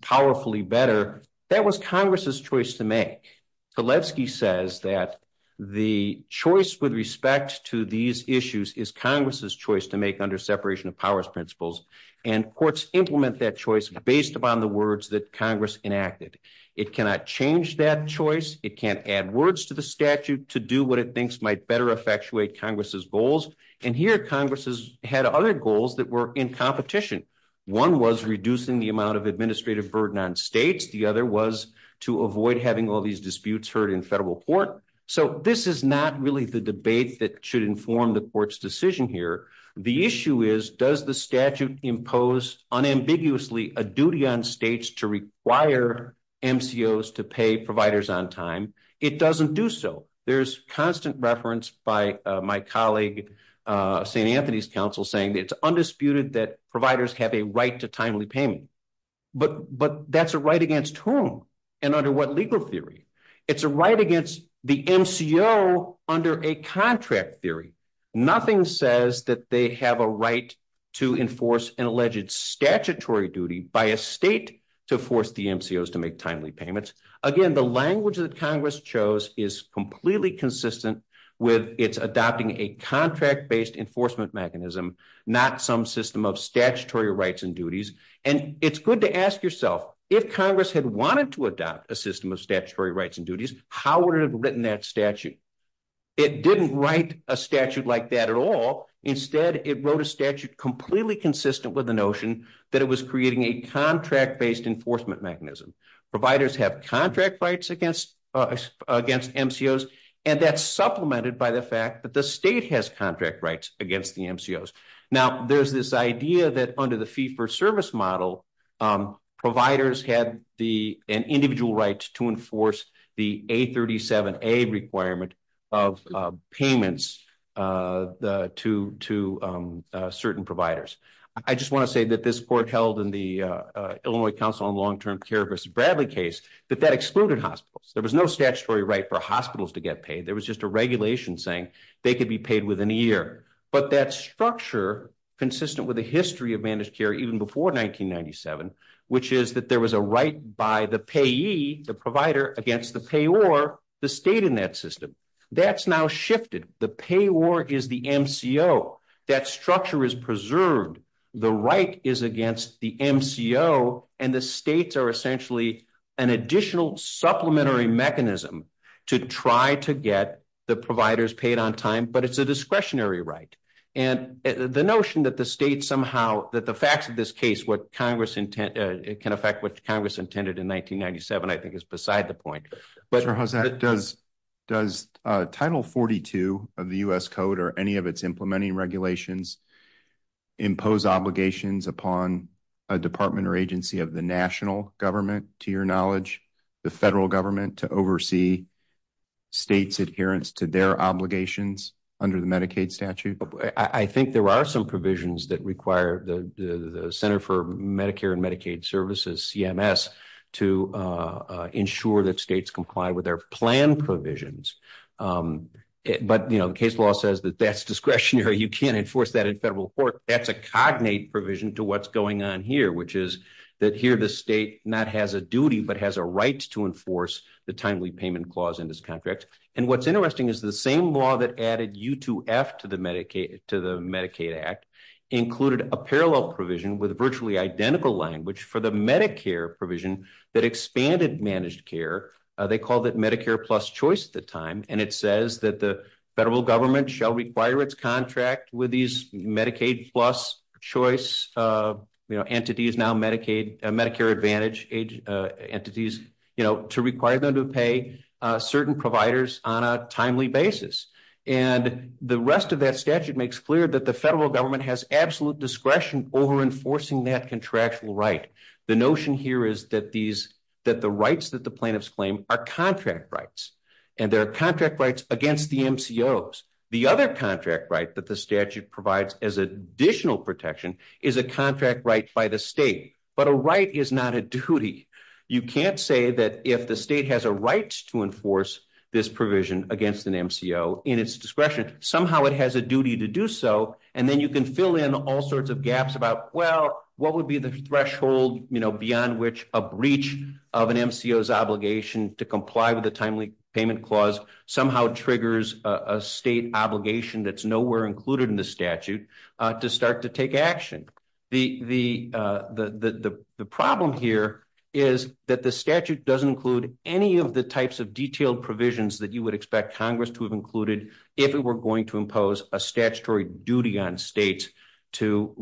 powerfully better. That was Congress's choice to make. Zelensky says that the choice with respect to these issues is Congress's choice to make under separation of powers principles. And courts implement that choice based upon the words that Congress enacted. It cannot change that choice. It can't add words to the statute to do what it thinks might better effectuate Congress's goals. And here, Congress had other goals that were in competition. One was reducing the amount of administrative burden on states. The other was to avoid having all these disputes heard in federal court. So this is not really the debate that should inform the court's decision here. The issue is, does the statute impose unambiguously a duty on states to require MCOs to pay providers on time? It doesn't do so. There's constant reference by my colleague, St. Anthony's counsel saying that it's undisputed that providers have a right to timely payment. But that's a right against whom? And under what legal theory? It's a right against the MCO under a contract theory. Nothing says that they have a right to enforce an alleged statutory duty by a state to force the MCOs to make timely payments. Again, the language that Congress chose is completely consistent with its adopting a contract-based enforcement mechanism, not some system of statutory rights and duties. And it's good to ask yourself, if Congress had wanted to adopt a system of statutory rights and duties, how would it have written that statute? It didn't write a statute like that at all. Instead, it wrote a statute completely consistent with the notion that it was creating a contract-based enforcement mechanism. Providers have contract rights against MCOs, and that's supplemented by the fact that the state has contract rights against the MCOs. Now, there's this idea that under the fee-for-service model, providers had an individual right to enforce the A37A requirement of payments to certain providers. I just wanna say that this court held in the Illinois Council on Long-Term Care versus Bradley case, that that excluded hospitals. There was no statutory right for hospitals to get paid. There was just a regulation saying they could be paid within a year. But that structure, consistent with the history of managed care even before 1997, which is that there was a right by the payee, the provider, against the payor, the state in that system. That's now shifted. The payor is the MCO. That structure is preserved. The right is against the MCO, and the states are essentially an additional supplementary mechanism to try to get the providers paid on time, but it's a discretionary right. And the notion that the state somehow, that the facts of this case can affect what Congress intended in 1997, I think is beside the point. But- Mr. Jose, does Title 42 of the U.S. Code or any of its implementing regulations impose obligations upon a department or agency of the national government, to your knowledge, the federal government to oversee states' adherence to their obligations under the Medicaid statute? I think there are some provisions that require the Center for Medicare and Medicaid Services, CMS, to ensure that states comply with their plan provisions. But the case law says that that's discretionary. You can't enforce that in federal court. That's a cognate provision to what's going on here, which is that here the state not has a duty, but has a right to enforce the timely payment clause in this contract. And what's interesting is the same law that added U2F to the Medicaid Act included a parallel provision with virtually identical language for the Medicare provision that expanded managed care. They called it Medicare Plus Choice at the time. And it says that the federal government shall require its contract with these Medicaid Plus Choice entities, now Medicare Advantage entities, to require them to pay certain providers on a timely basis. And the rest of that statute makes clear that the federal government has absolute discretion over enforcing that contractual right. The notion here is that the rights that the plaintiffs claim are contract rights, and they're contract rights against the MCOs. The other contract right that the statute provides as additional protection is a contract right by the state, but a right is not a duty. You can't say that if the state has a right to enforce this provision against an MCO in its discretion, somehow it has a duty to do so. And then you can fill in all sorts of gaps about, well, what would be the threshold beyond which a breach of an MCO's obligation to comply with the timely payment clause somehow triggers a state obligation that's nowhere included in the statute to start to take action. The problem here is that the statute doesn't include any of the types of detailed provisions that you would expect Congress to have included if it were going to impose a statutory duty on states to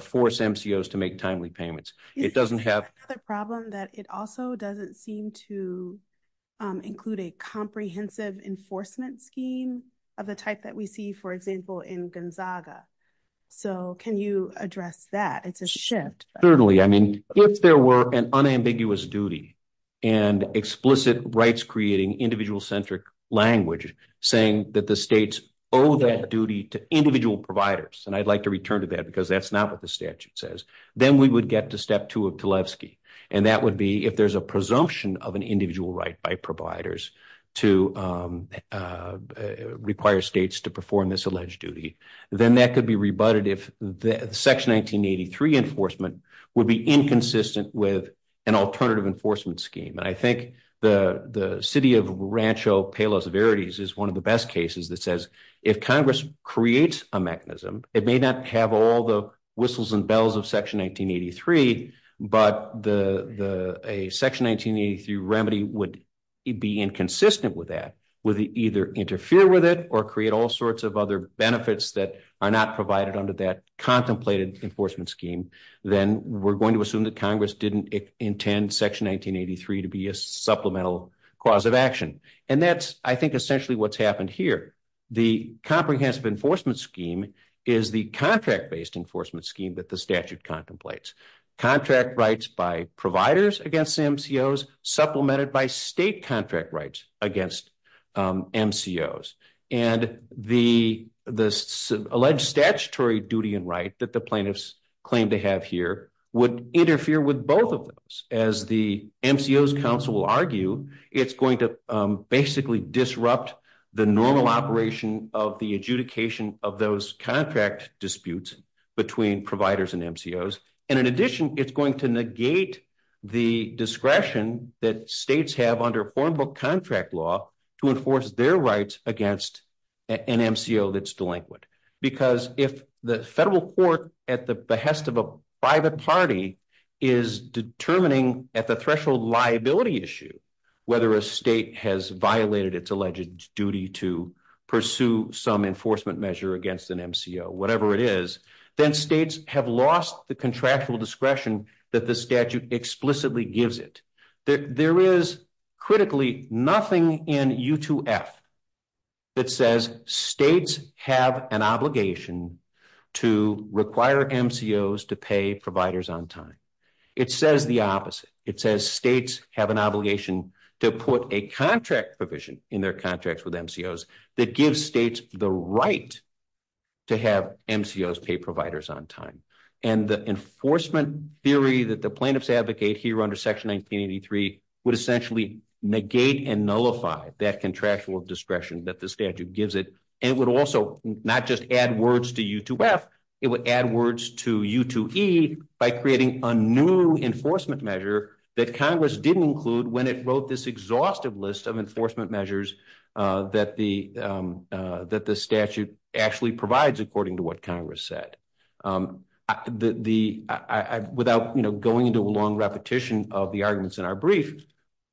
force MCOs to make timely payments. It doesn't have- That's the problem that it also doesn't seem to include a comprehensive enforcement scheme of the type that we see, for example, in Gonzaga. So can you address that? It's a shift. Certainly. I mean, if there were an unambiguous duty and explicit rights-creating individual-centric language saying that the states owe that duty to individual providers, and I'd like to return to that because that's not what the statute says, then we would get to step two of Kalevsky. And that would be if there's a presumption of an individual right by providers to require states to perform this alleged duty. Then that could be rebutted if Section 1983 enforcement would be inconsistent with an alternative enforcement scheme. And I think the city of Rancho Palos Verdes is one of the best cases that says if Congress creates a mechanism, it may not have all the whistles and bells of Section 1983, but a Section 1983 remedy would be inconsistent with that. Would it either interfere with it or create all sorts of other benefits that are not provided under that contemplated enforcement scheme? Then we're going to assume that Congress didn't intend Section 1983 to be a supplemental cause of action. And that's, I think, essentially what's happened here. The comprehensive enforcement scheme is the contract-based enforcement scheme that the statute contemplates. Contract rights by providers against MCOs supplemented by state contract rights against MCOs. And the alleged statutory duty and right that the plaintiffs claim to have here would interfere with both of those. As the MCOs Council will argue, it's going to basically disrupt the normal operation of the adjudication of those contract disputes between providers and MCOs. And in addition, it's going to negate the discretion that states have under form book contract law to enforce their rights against an MCO that's delinquent. Because if the federal court at the behest of a private party is determining at the threshold liability issue, whether a state has violated its alleged duty to pursue some enforcement measure against an MCO, whatever it is, then states have lost the contractual discretion that the statute explicitly gives it. There is critically nothing in U2F that says states have an obligation to require MCOs to pay providers on time. It says the opposite. It says states have an obligation to put a contract provision in their contracts with MCOs that gives states the right to have MCOs pay providers on time. And the enforcement theory that the plaintiffs advocate here under section 1983 would essentially negate and nullify that contractual discretion that the statute gives it. And it would also not just add words to U2F, it would add words to U2E by creating a new enforcement measure that Congress didn't include when it wrote this exhaustive list of enforcement measures that the statute actually provides according to what Congress said. Without going into a long repetition of the arguments in our brief,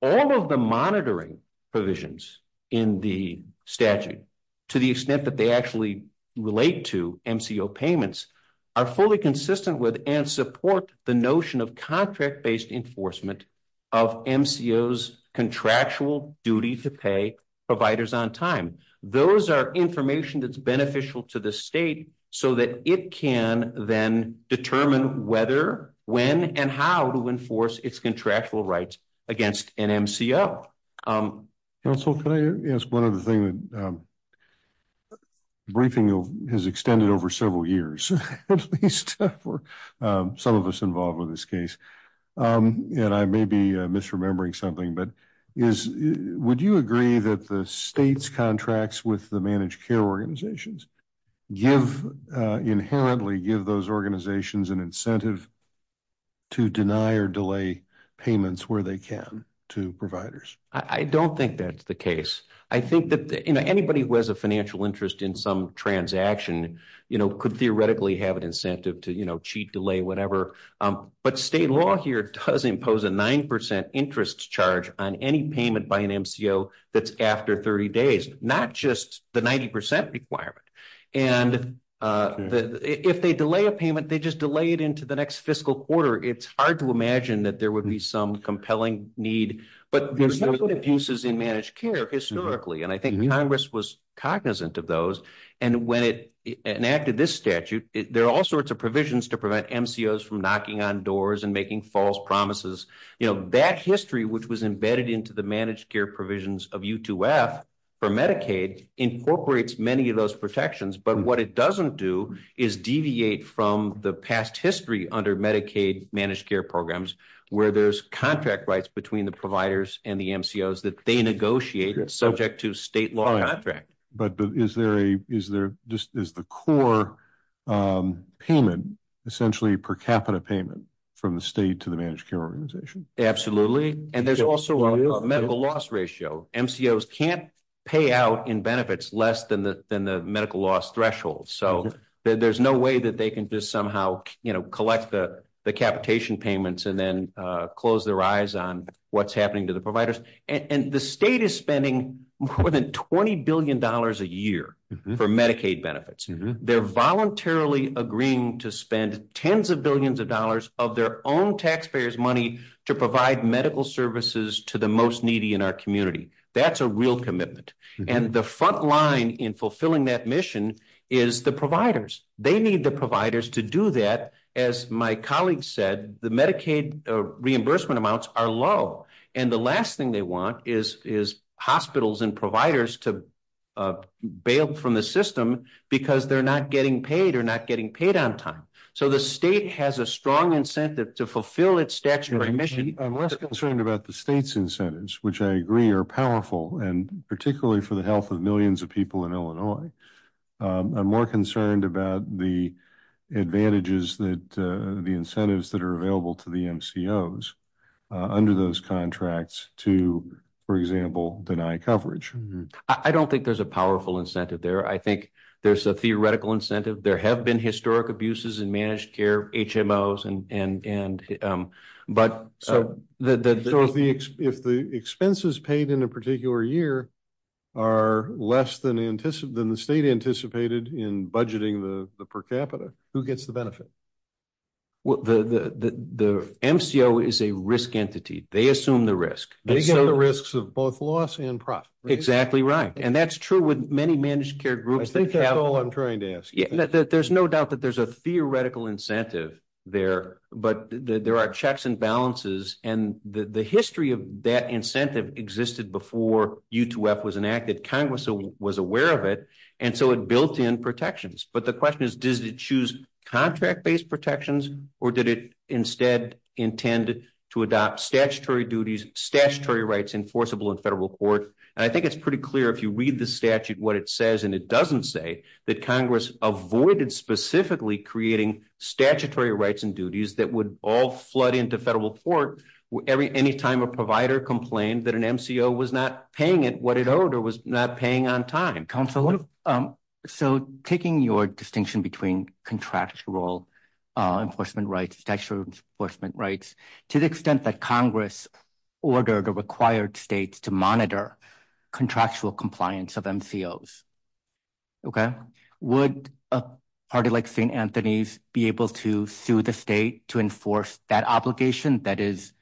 all of the monitoring provisions in the statute to the extent that they actually relate to MCO payments are fully consistent with and support the notion of contract-based enforcement of MCOs contractual duty to pay providers on time. Those are information that's beneficial to the state so that it can then determine whether, when and how to enforce its contractual rights against an MCO. Counsel, can I ask one other thing? Briefing has extended over several years, at least for some of us involved with this case. And I may be misremembering something, but would you agree that the state's contracts with the managed care organizations inherently give those organizations an incentive to deny or delay payments where they can to providers? I don't think that's the case. I think that anybody who has a financial interest in some transaction could theoretically have an incentive to cheat, delay, whatever. But state law here does impose a 9% interest charge on any payment by an MCO that's after 30 days, not just the 90% requirement. And if they delay a payment, they just delay it into the next fiscal quarter. It's hard to imagine that there would be some compelling need, but there's no good abuses in managed care historically. And I think Congress was cognizant of those. And when it enacted this statute, there are all sorts of provisions to prevent MCOs from knocking on doors and making false promises. That history, which was embedded into the managed care provisions of U2F for Medicaid incorporates many of those protections, but what it doesn't do is deviate from the past history under Medicaid managed care programs where there's contract rights between the providers and the MCOs that they negotiated subject to state law contract. But is the core payment essentially per capita payment from the state to the managed care organization? Absolutely, and there's also a medical loss ratio. MCOs can't pay out in benefits less than the medical loss threshold. So there's no way that they can just somehow collect the capitation payments and then close their eyes on what's happening to the providers. And the state is spending more than $20 billion a year for Medicaid benefits. They're voluntarily agreeing to spend tens of billions of dollars of their own taxpayers' money to provide medical services to the most needy in our community. That's a real commitment. And the front line in fulfilling that mission is the providers. They need the providers to do that. As my colleague said, the Medicaid reimbursement amounts are low. And the last thing they want is hospitals and providers to bail from the system because they're not getting paid or not getting paid on time. So the state has a strong incentive to fulfill its statutory mission. I'm less concerned about the state's incentives, which I agree are powerful, and particularly for the health of millions of people in Illinois. I'm more concerned about the advantages, the incentives that are available to the MCOs under those contracts to, for example, deny coverage. I don't think there's a powerful incentive there. I think there's a theoretical incentive. There have been historic abuses in managed care, HMOs, and, but- So if the expenses paid in a particular year are less than the state anticipated in budgeting the per capita, who gets the benefit? Well, the MCO is a risk entity. They assume the risk. They get the risks of both loss and profit. Exactly right. And that's true with many managed care groups. I think that's all I'm trying to ask. There's no doubt that there's a theoretical incentive there, but there are checks and balances. And the history of that incentive existed before U2F was enacted. Congress was aware of it. And so it built in protections. But the question is, does it choose contract-based protections or did it instead intend to adopt statutory duties, statutory rights enforceable in federal court? And I think it's pretty clear if you read the statute, what it says, and it doesn't say, that Congress avoided specifically creating statutory rights and duties that would all flood into federal court anytime a provider complained that an MCO was not paying it what it owed or was not paying on time. Counselor, so taking your distinction between contractual enforcement rights, statutory enforcement rights, to the extent that Congress ordered or required states to monitor contractual compliance of MCOs, okay? Would a party like St. Anthony's be able to sue the state to enforce that obligation that is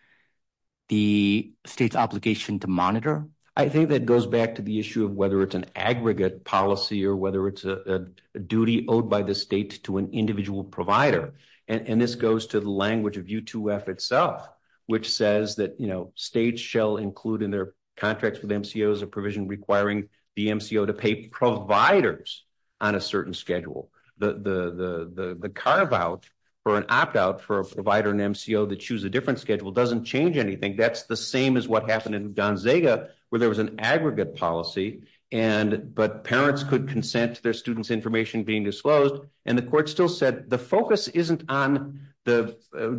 the state's obligation to monitor? I think that goes back to the issue of whether it's an aggregate policy or whether it's a duty owed by the state to an individual provider. And this goes to the language of U2F itself, which says that states shall include in their contracts with MCOs a provision requiring the MCO to pay providers on a certain schedule. The carve-out or an opt-out for a provider and MCO that choose a different schedule doesn't change anything. That's the same as what happened in Gonzaga where there was an aggregate policy, but parents could consent to their student's information being disclosed. And the court still said, the focus isn't on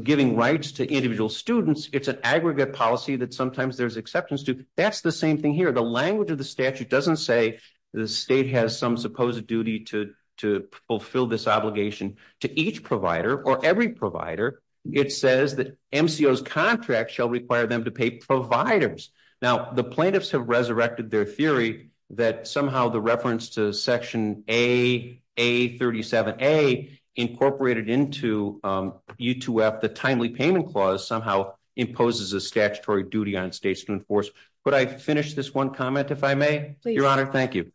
giving rights to individual students, it's an aggregate policy that sometimes there's exceptions to. That's the same thing here. The language of the statute doesn't say the state has some supposed duty to fulfill this obligation to each provider or every provider. It says that MCO's contract shall require them to pay providers. Now, the plaintiffs have resurrected their theory that somehow the reference to Section A, A37A incorporated into U2F, the timely payment clause, somehow imposes a statutory duty on states to enforce. Could I finish this one comment, if I may? Your Honor, thank you.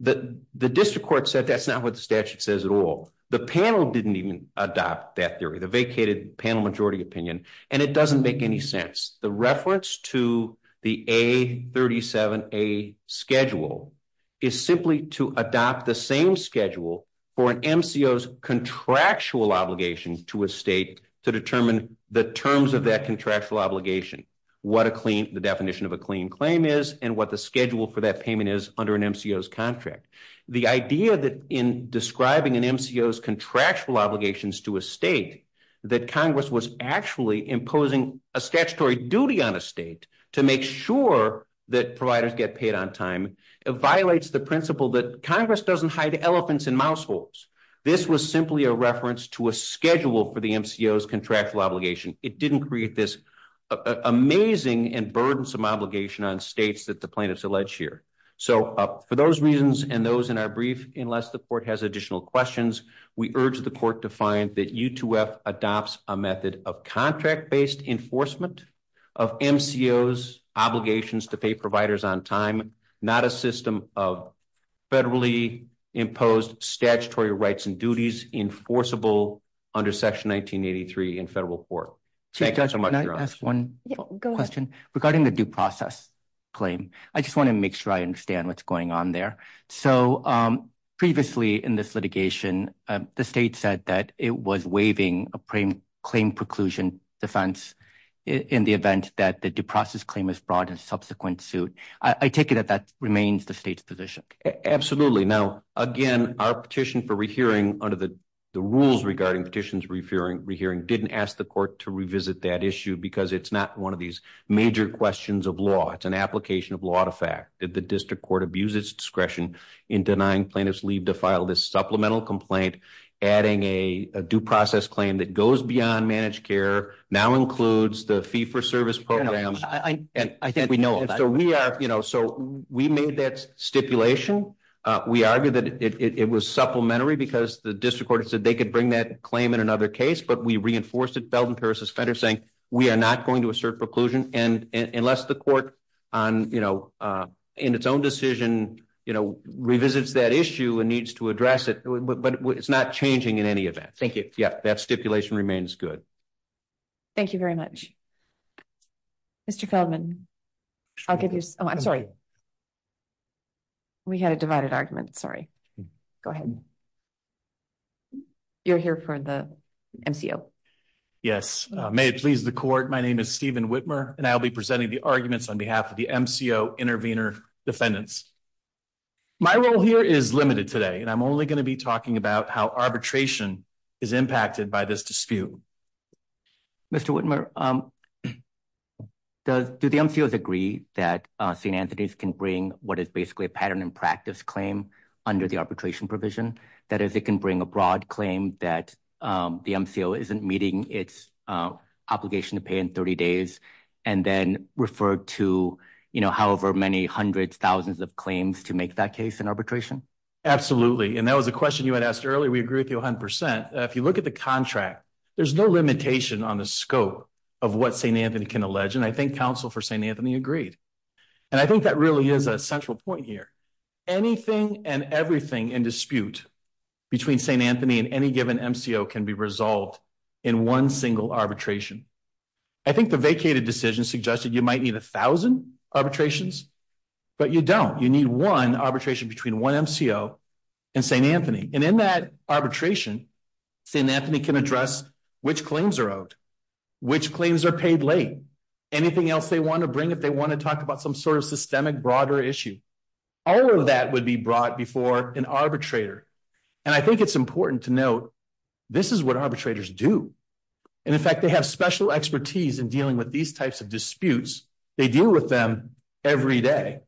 The district court said that's not what the statute says at all. The panel didn't even adopt that theory, the vacated panel majority opinion. And it doesn't make any sense. The reference to the A37A schedule is simply to adopt the same schedule for an MCO's contractual obligation to a state to determine the terms of that contractual obligation, what the definition of a clean claim is and what the schedule for that payment is under an MCO's contract. The idea that in describing an MCO's contractual obligations to a state, that Congress was actually imposing a statutory duty on a state to make sure that providers get paid on time, it violates the principle that Congress doesn't hide elephants in mouse holes. This was simply a reference to a schedule for the MCO's contractual obligation. It didn't create this amazing and burdensome obligation on states that the plaintiffs allege here. So for those reasons and those in our brief, unless the court has additional questions, we urge the court to find that U2F adopts a method of contract-based enforcement of MCO's obligations to pay providers on time, not a system of federally imposed statutory rights and duties enforceable under section 1983 in federal court. Thank you so much, Your Honor. Can I ask one question? Regarding the due process claim, I just wanna make sure I understand what's going on there. So previously in this litigation, the state said that it was waiving a claim preclusion defense in the event that the due process claim was brought in subsequent suit. I take it that that remains the state's position. Now, again, our petition for re-hearing under the rules regarding petitions re-hearing didn't ask the court to revisit that issue because it's not one of these major questions of law. It's an application of law to fact that the district court abuses discretion in denying plaintiffs leave to file this supplemental complaint, adding a due process claim that goes beyond managed care, now includes the fee-for-service programs. I think we know all that. So we made that stipulation. We argued that it was supplementary because the district court said they could bring that claim in another case, but we reinforced it, Feldman, Peiris, and Schneider, saying we are not going to assert preclusion unless the court, in its own decision, revisits that issue and needs to address it, but it's not changing in any event. Thank you. Yeah, that stipulation remains good. Thank you very much. Mr. Feldman, I'll give you, oh, I'm sorry. We had a divided argument, sorry. Go ahead. You're here for the MCO. Yes. May it please the court, my name is Stephen Whitmer, and I'll be presenting the arguments on behalf of the MCO intervener defendants. My role here is limited today, and I'm only gonna be talking about how arbitration is impacted by this dispute. Mr. Whitmer, do the MCOs agree that St. Anthony's can bring what is basically a pattern and practice claim under the arbitration provision? That is, it can bring a broad claim that the MCO isn't meeting its obligation to pay in 30 days and then refer to however many hundreds, thousands of claims to make that case in arbitration? Absolutely, and that was the question you had asked earlier. We agree with you 100%. If you look at the contract, there's no limitation on the scope of what St. Anthony can allege, and I think counsel for St. Anthony agreed. And I think that really is a central point here. Anything and everything in dispute between St. Anthony and any given MCO can be resolved in one single arbitration. I think the vacated decision suggested you might need 1,000 arbitrations, but you don't. You need one arbitration between one MCO and St. Anthony. And in that arbitration, St. Anthony can address which claims are owed, which claims are paid late, anything else they wanna bring if they wanna talk about some sort of systemic, broader issue. All of that would be brought before an arbitrator. And I think it's important to note this is what arbitrators do. And in fact, they have special expertise in dealing with these types of disputes. They deal with them every day.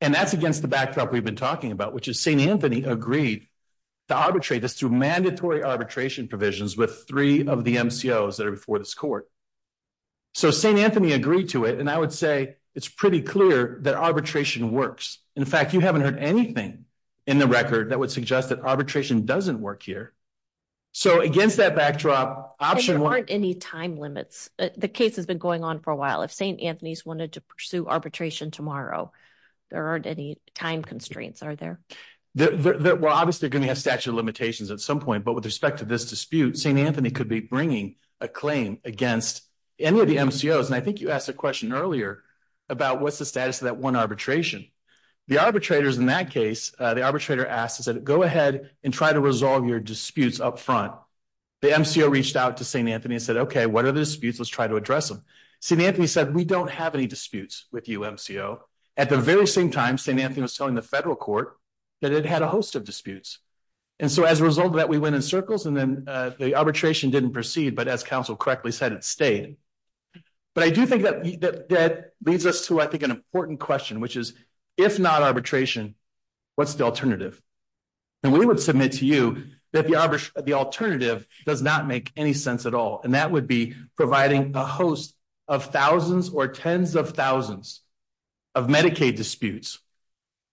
And that's against the backdrop we've been talking about, which is St. Anthony agreed to arbitrate this through mandatory arbitration provisions with three of the MCOs that are before this court. So St. Anthony agreed to it, and I would say it's pretty clear that arbitration works. In fact, you haven't heard anything in the record that would suggest that arbitration doesn't work here. So against that backdrop, option one- There aren't any time limits. The case has been going on for a while. If St. Anthony's wanted to pursue arbitration tomorrow, there aren't any time constraints, are there? Well, obviously, they're gonna have statute of limitations at some point, but with respect to this dispute, St. Anthony could be bringing a claim against any of the MCOs. And I think you asked the question earlier about what's the status of that one arbitration. The arbitrators in that case, the arbitrator asked, he said, go ahead and try to resolve your disputes up front. The MCO reached out to St. Anthony and said, okay, what are the disputes? Let's try to address them. St. Anthony said, we don't have any disputes with you, MCO. At the very same time, St. Anthony was telling the federal court that it had a host of disputes. And so as a result of that, we went in circles and then the arbitration didn't proceed, but as counsel correctly said, it stayed. But I do think that leads us to, I think, an important question, which is, if not arbitration, what's the alternative? And we would submit to you that the alternative does not make any sense at all. And that would be providing a host of thousands or tens of thousands of Medicaid disputes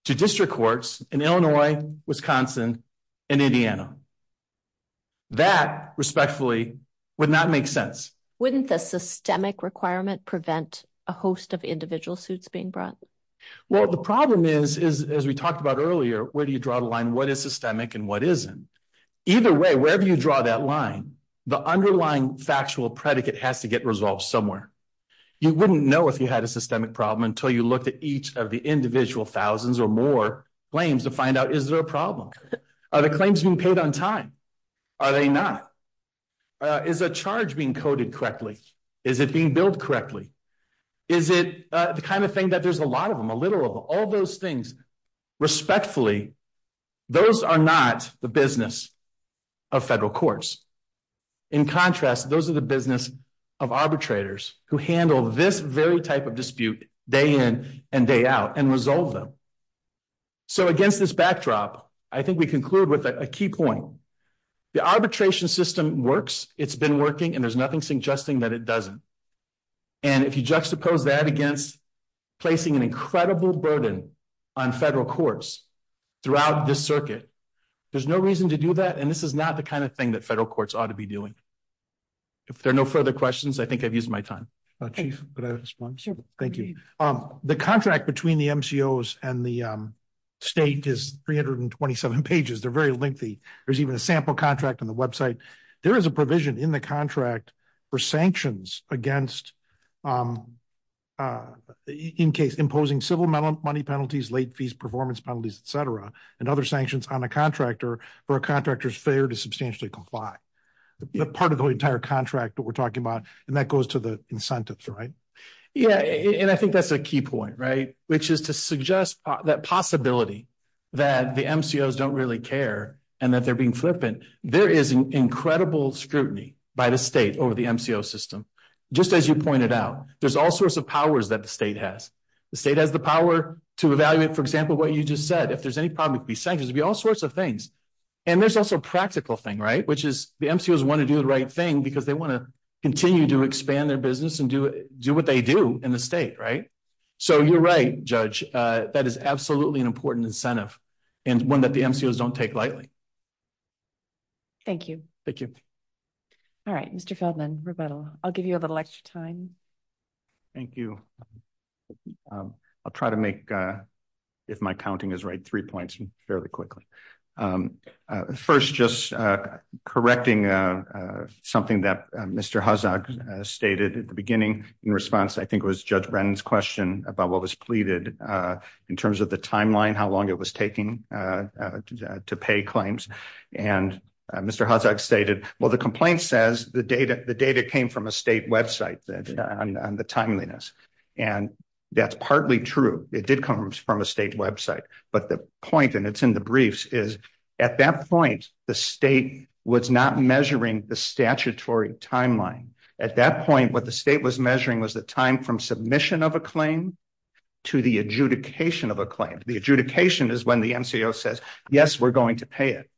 to district courts in Illinois, Wisconsin, and Indiana. That, respectfully, would not make sense. Wouldn't the systemic requirement prevent a host of individual suits being brought? Well, the problem is, as we talked about earlier, where do you draw the line? What is systemic and what isn't? Either way, wherever you draw that line, the underlying factual predicate has to get resolved somewhere. You wouldn't know if you had a systemic problem until you looked at each of the individual thousands or more claims to find out, is there a problem? Are the claims being paid on time? Are they not? Is a charge being coded correctly? Is it being billed correctly? Is it the kind of thing that there's a lot of them, a literal, all those things, respectfully, those are not the business of federal courts. In contrast, those are the business of arbitrators who handle this very type of dispute day in and day out and resolve them. So against this backdrop, I think we conclude with a key point. The arbitration system works, it's been working, and there's nothing suggesting that it doesn't. And if you juxtapose that against placing an incredible burden on federal courts throughout this circuit, there's no reason to do that, and this is not the kind of thing that federal courts ought to be doing. If there are no further questions, I think I've used my time. Okay, thank you. The contract between the MCOs and the state is 327 pages. They're very lengthy. There's even a sample contract on the website. There is a provision in the contract for sanctions against imposing civil money penalties, late fees, performance penalties, et cetera, and other sanctions on a contractor for a contractor's failure to substantially comply. Part of the entire contract that we're talking about, and that goes to the incentives, right? Yeah, and I think that's a key point, right, which is to suggest that possibility that the MCOs don't really care and that they're being flippant. There is incredible scrutiny by the state over the MCO system. Just as you pointed out, there's all sorts of powers that the state has. The state has the power to evaluate, for example, what you just said. If there's any problem, it could be sanctions. It could be all sorts of things. And there's also a practical thing, right, which is the MCOs wanna do the right thing because they wanna continue to expand their business and do what they do in the state, right? So you're right, Judge. That is absolutely an important incentive and one that the MCOs don't take lightly. Thank you. Thank you. All right, Mr. Feldman, Roberto, I'll give you a little extra time. Thank you. I'll try to make, if my counting is right, three points fairly quickly. First, just correcting something that Mr. Hazzard stated at the beginning in response, I think it was Judge Brennan's question about what was pleaded in terms of the timeline, how long it was taking to pay claims. And Mr. Hazzard stated, well, the complaint says the data came from a state website on the timeliness. And that's partly true. It did come from a state website, but the point, and it's in the briefs, is at that point, the state was not measuring the statutory timeline. At that point, what the state was measuring was the time from submission of a claim to the adjudication of a claim. The adjudication is when the MCO says, yes, we're going to pay it.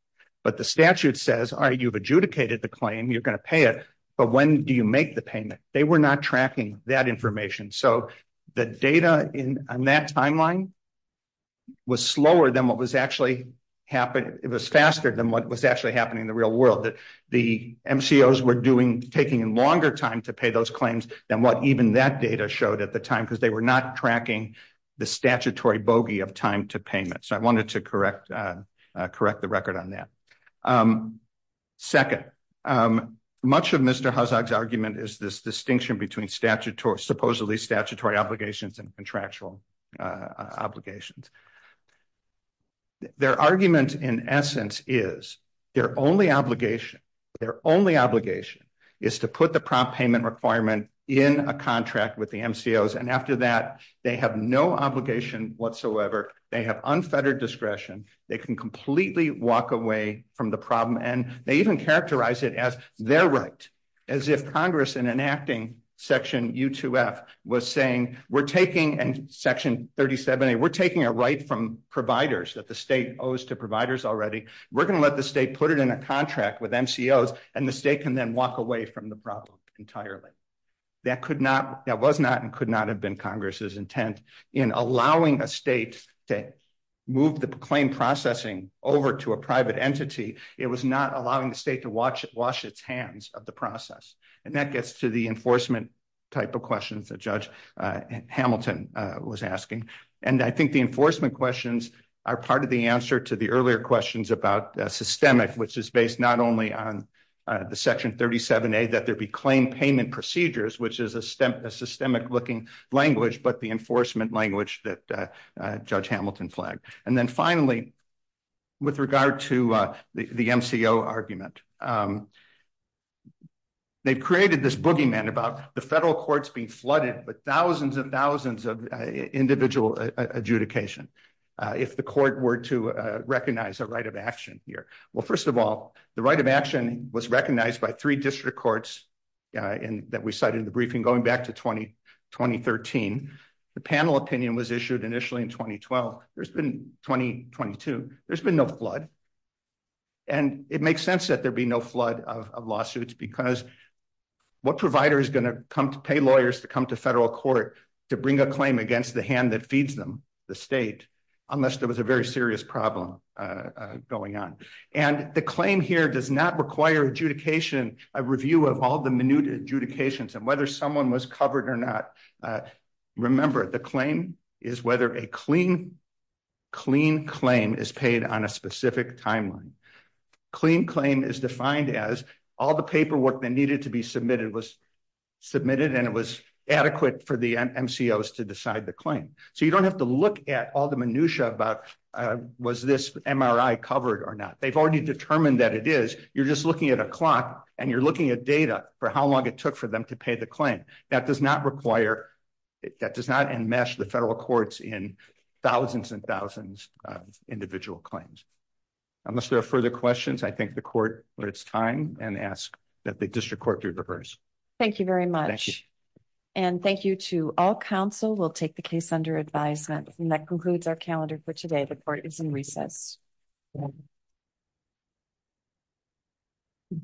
But the statute says, all right, you've adjudicated the claim, you're gonna pay it, but when do you make the payment? They were not tracking that information. So the data on that timeline, was slower than what was actually happened, it was faster than what was actually happening in the real world. The MCOs were taking longer time to pay those claims than what even that data showed at the time, because they were not tracking the statutory bogey of time to payment. So I wanted to correct the record on that. Second, much of Mr. Hazzard's argument is this distinction between supposedly statutory obligations and contractual obligations. Their argument in essence is, their only obligation, their only obligation is to put the prompt payment requirement in a contract with the MCOs. And after that, they have no obligation whatsoever, they have unfettered discretion, they can completely walk away from the problem. And they even characterize it as their right, as if Congress in enacting Section U2F was saying, we're taking Section 37A, we're taking a right from providers that the state owes to providers already, we're gonna let the state put it in a contract with MCOs and the state can then walk away from the problem entirely. That was not and could not have been Congress's intent in allowing the state to move the claim processing over to a private entity, it was not allowing the state to wash its hands of the process. And that gets to the enforcement type of questions that Judge Hamilton was asking. And I think the enforcement questions are part of the answer to the earlier questions about systemic, which is based not only on the Section 37A, that there'd be claim payment procedures, which is a systemic looking language, but the enforcement language that Judge Hamilton flagged. And then finally, with regard to the MCO argument, they've created this boogeyman about the federal courts being flooded with thousands and thousands of individual adjudication, if the court were to recognize a right of action here. Well, first of all, the right of action was recognized by three district courts that we cited in the briefing going back to 2013. The panel opinion was issued initially in 2012, there's been 2022, there's been no flood. And it makes sense that there'd be no flood of lawsuits because what provider is gonna come to pay lawyers to come to federal court to bring a claim against the hand that feeds them, the state, unless there was a very serious problem going on. And the claim here does not require adjudication, a review of all the minute adjudications and whether someone was covered or not. Remember, the claim is whether a clean claim is paid on a specific timeline. Clean claim is defined as all the paperwork that needed to be submitted was submitted and it was adequate for the MCOs to decide the claim. So you don't have to look at all the minutia about was this MRI covered or not? They've already determined that it is, you're just looking at a clock and you're looking at data for how long it took for them to pay the claim. That does not require, that does not enmesh the federal courts in thousands and thousands of individual claims. Unless there are further questions, I think the court, it's time and ask that the district court be reversed. Thank you very much. And thank you to all counsel will take the case under advisement. And that concludes our calendar for today. The court is in recess.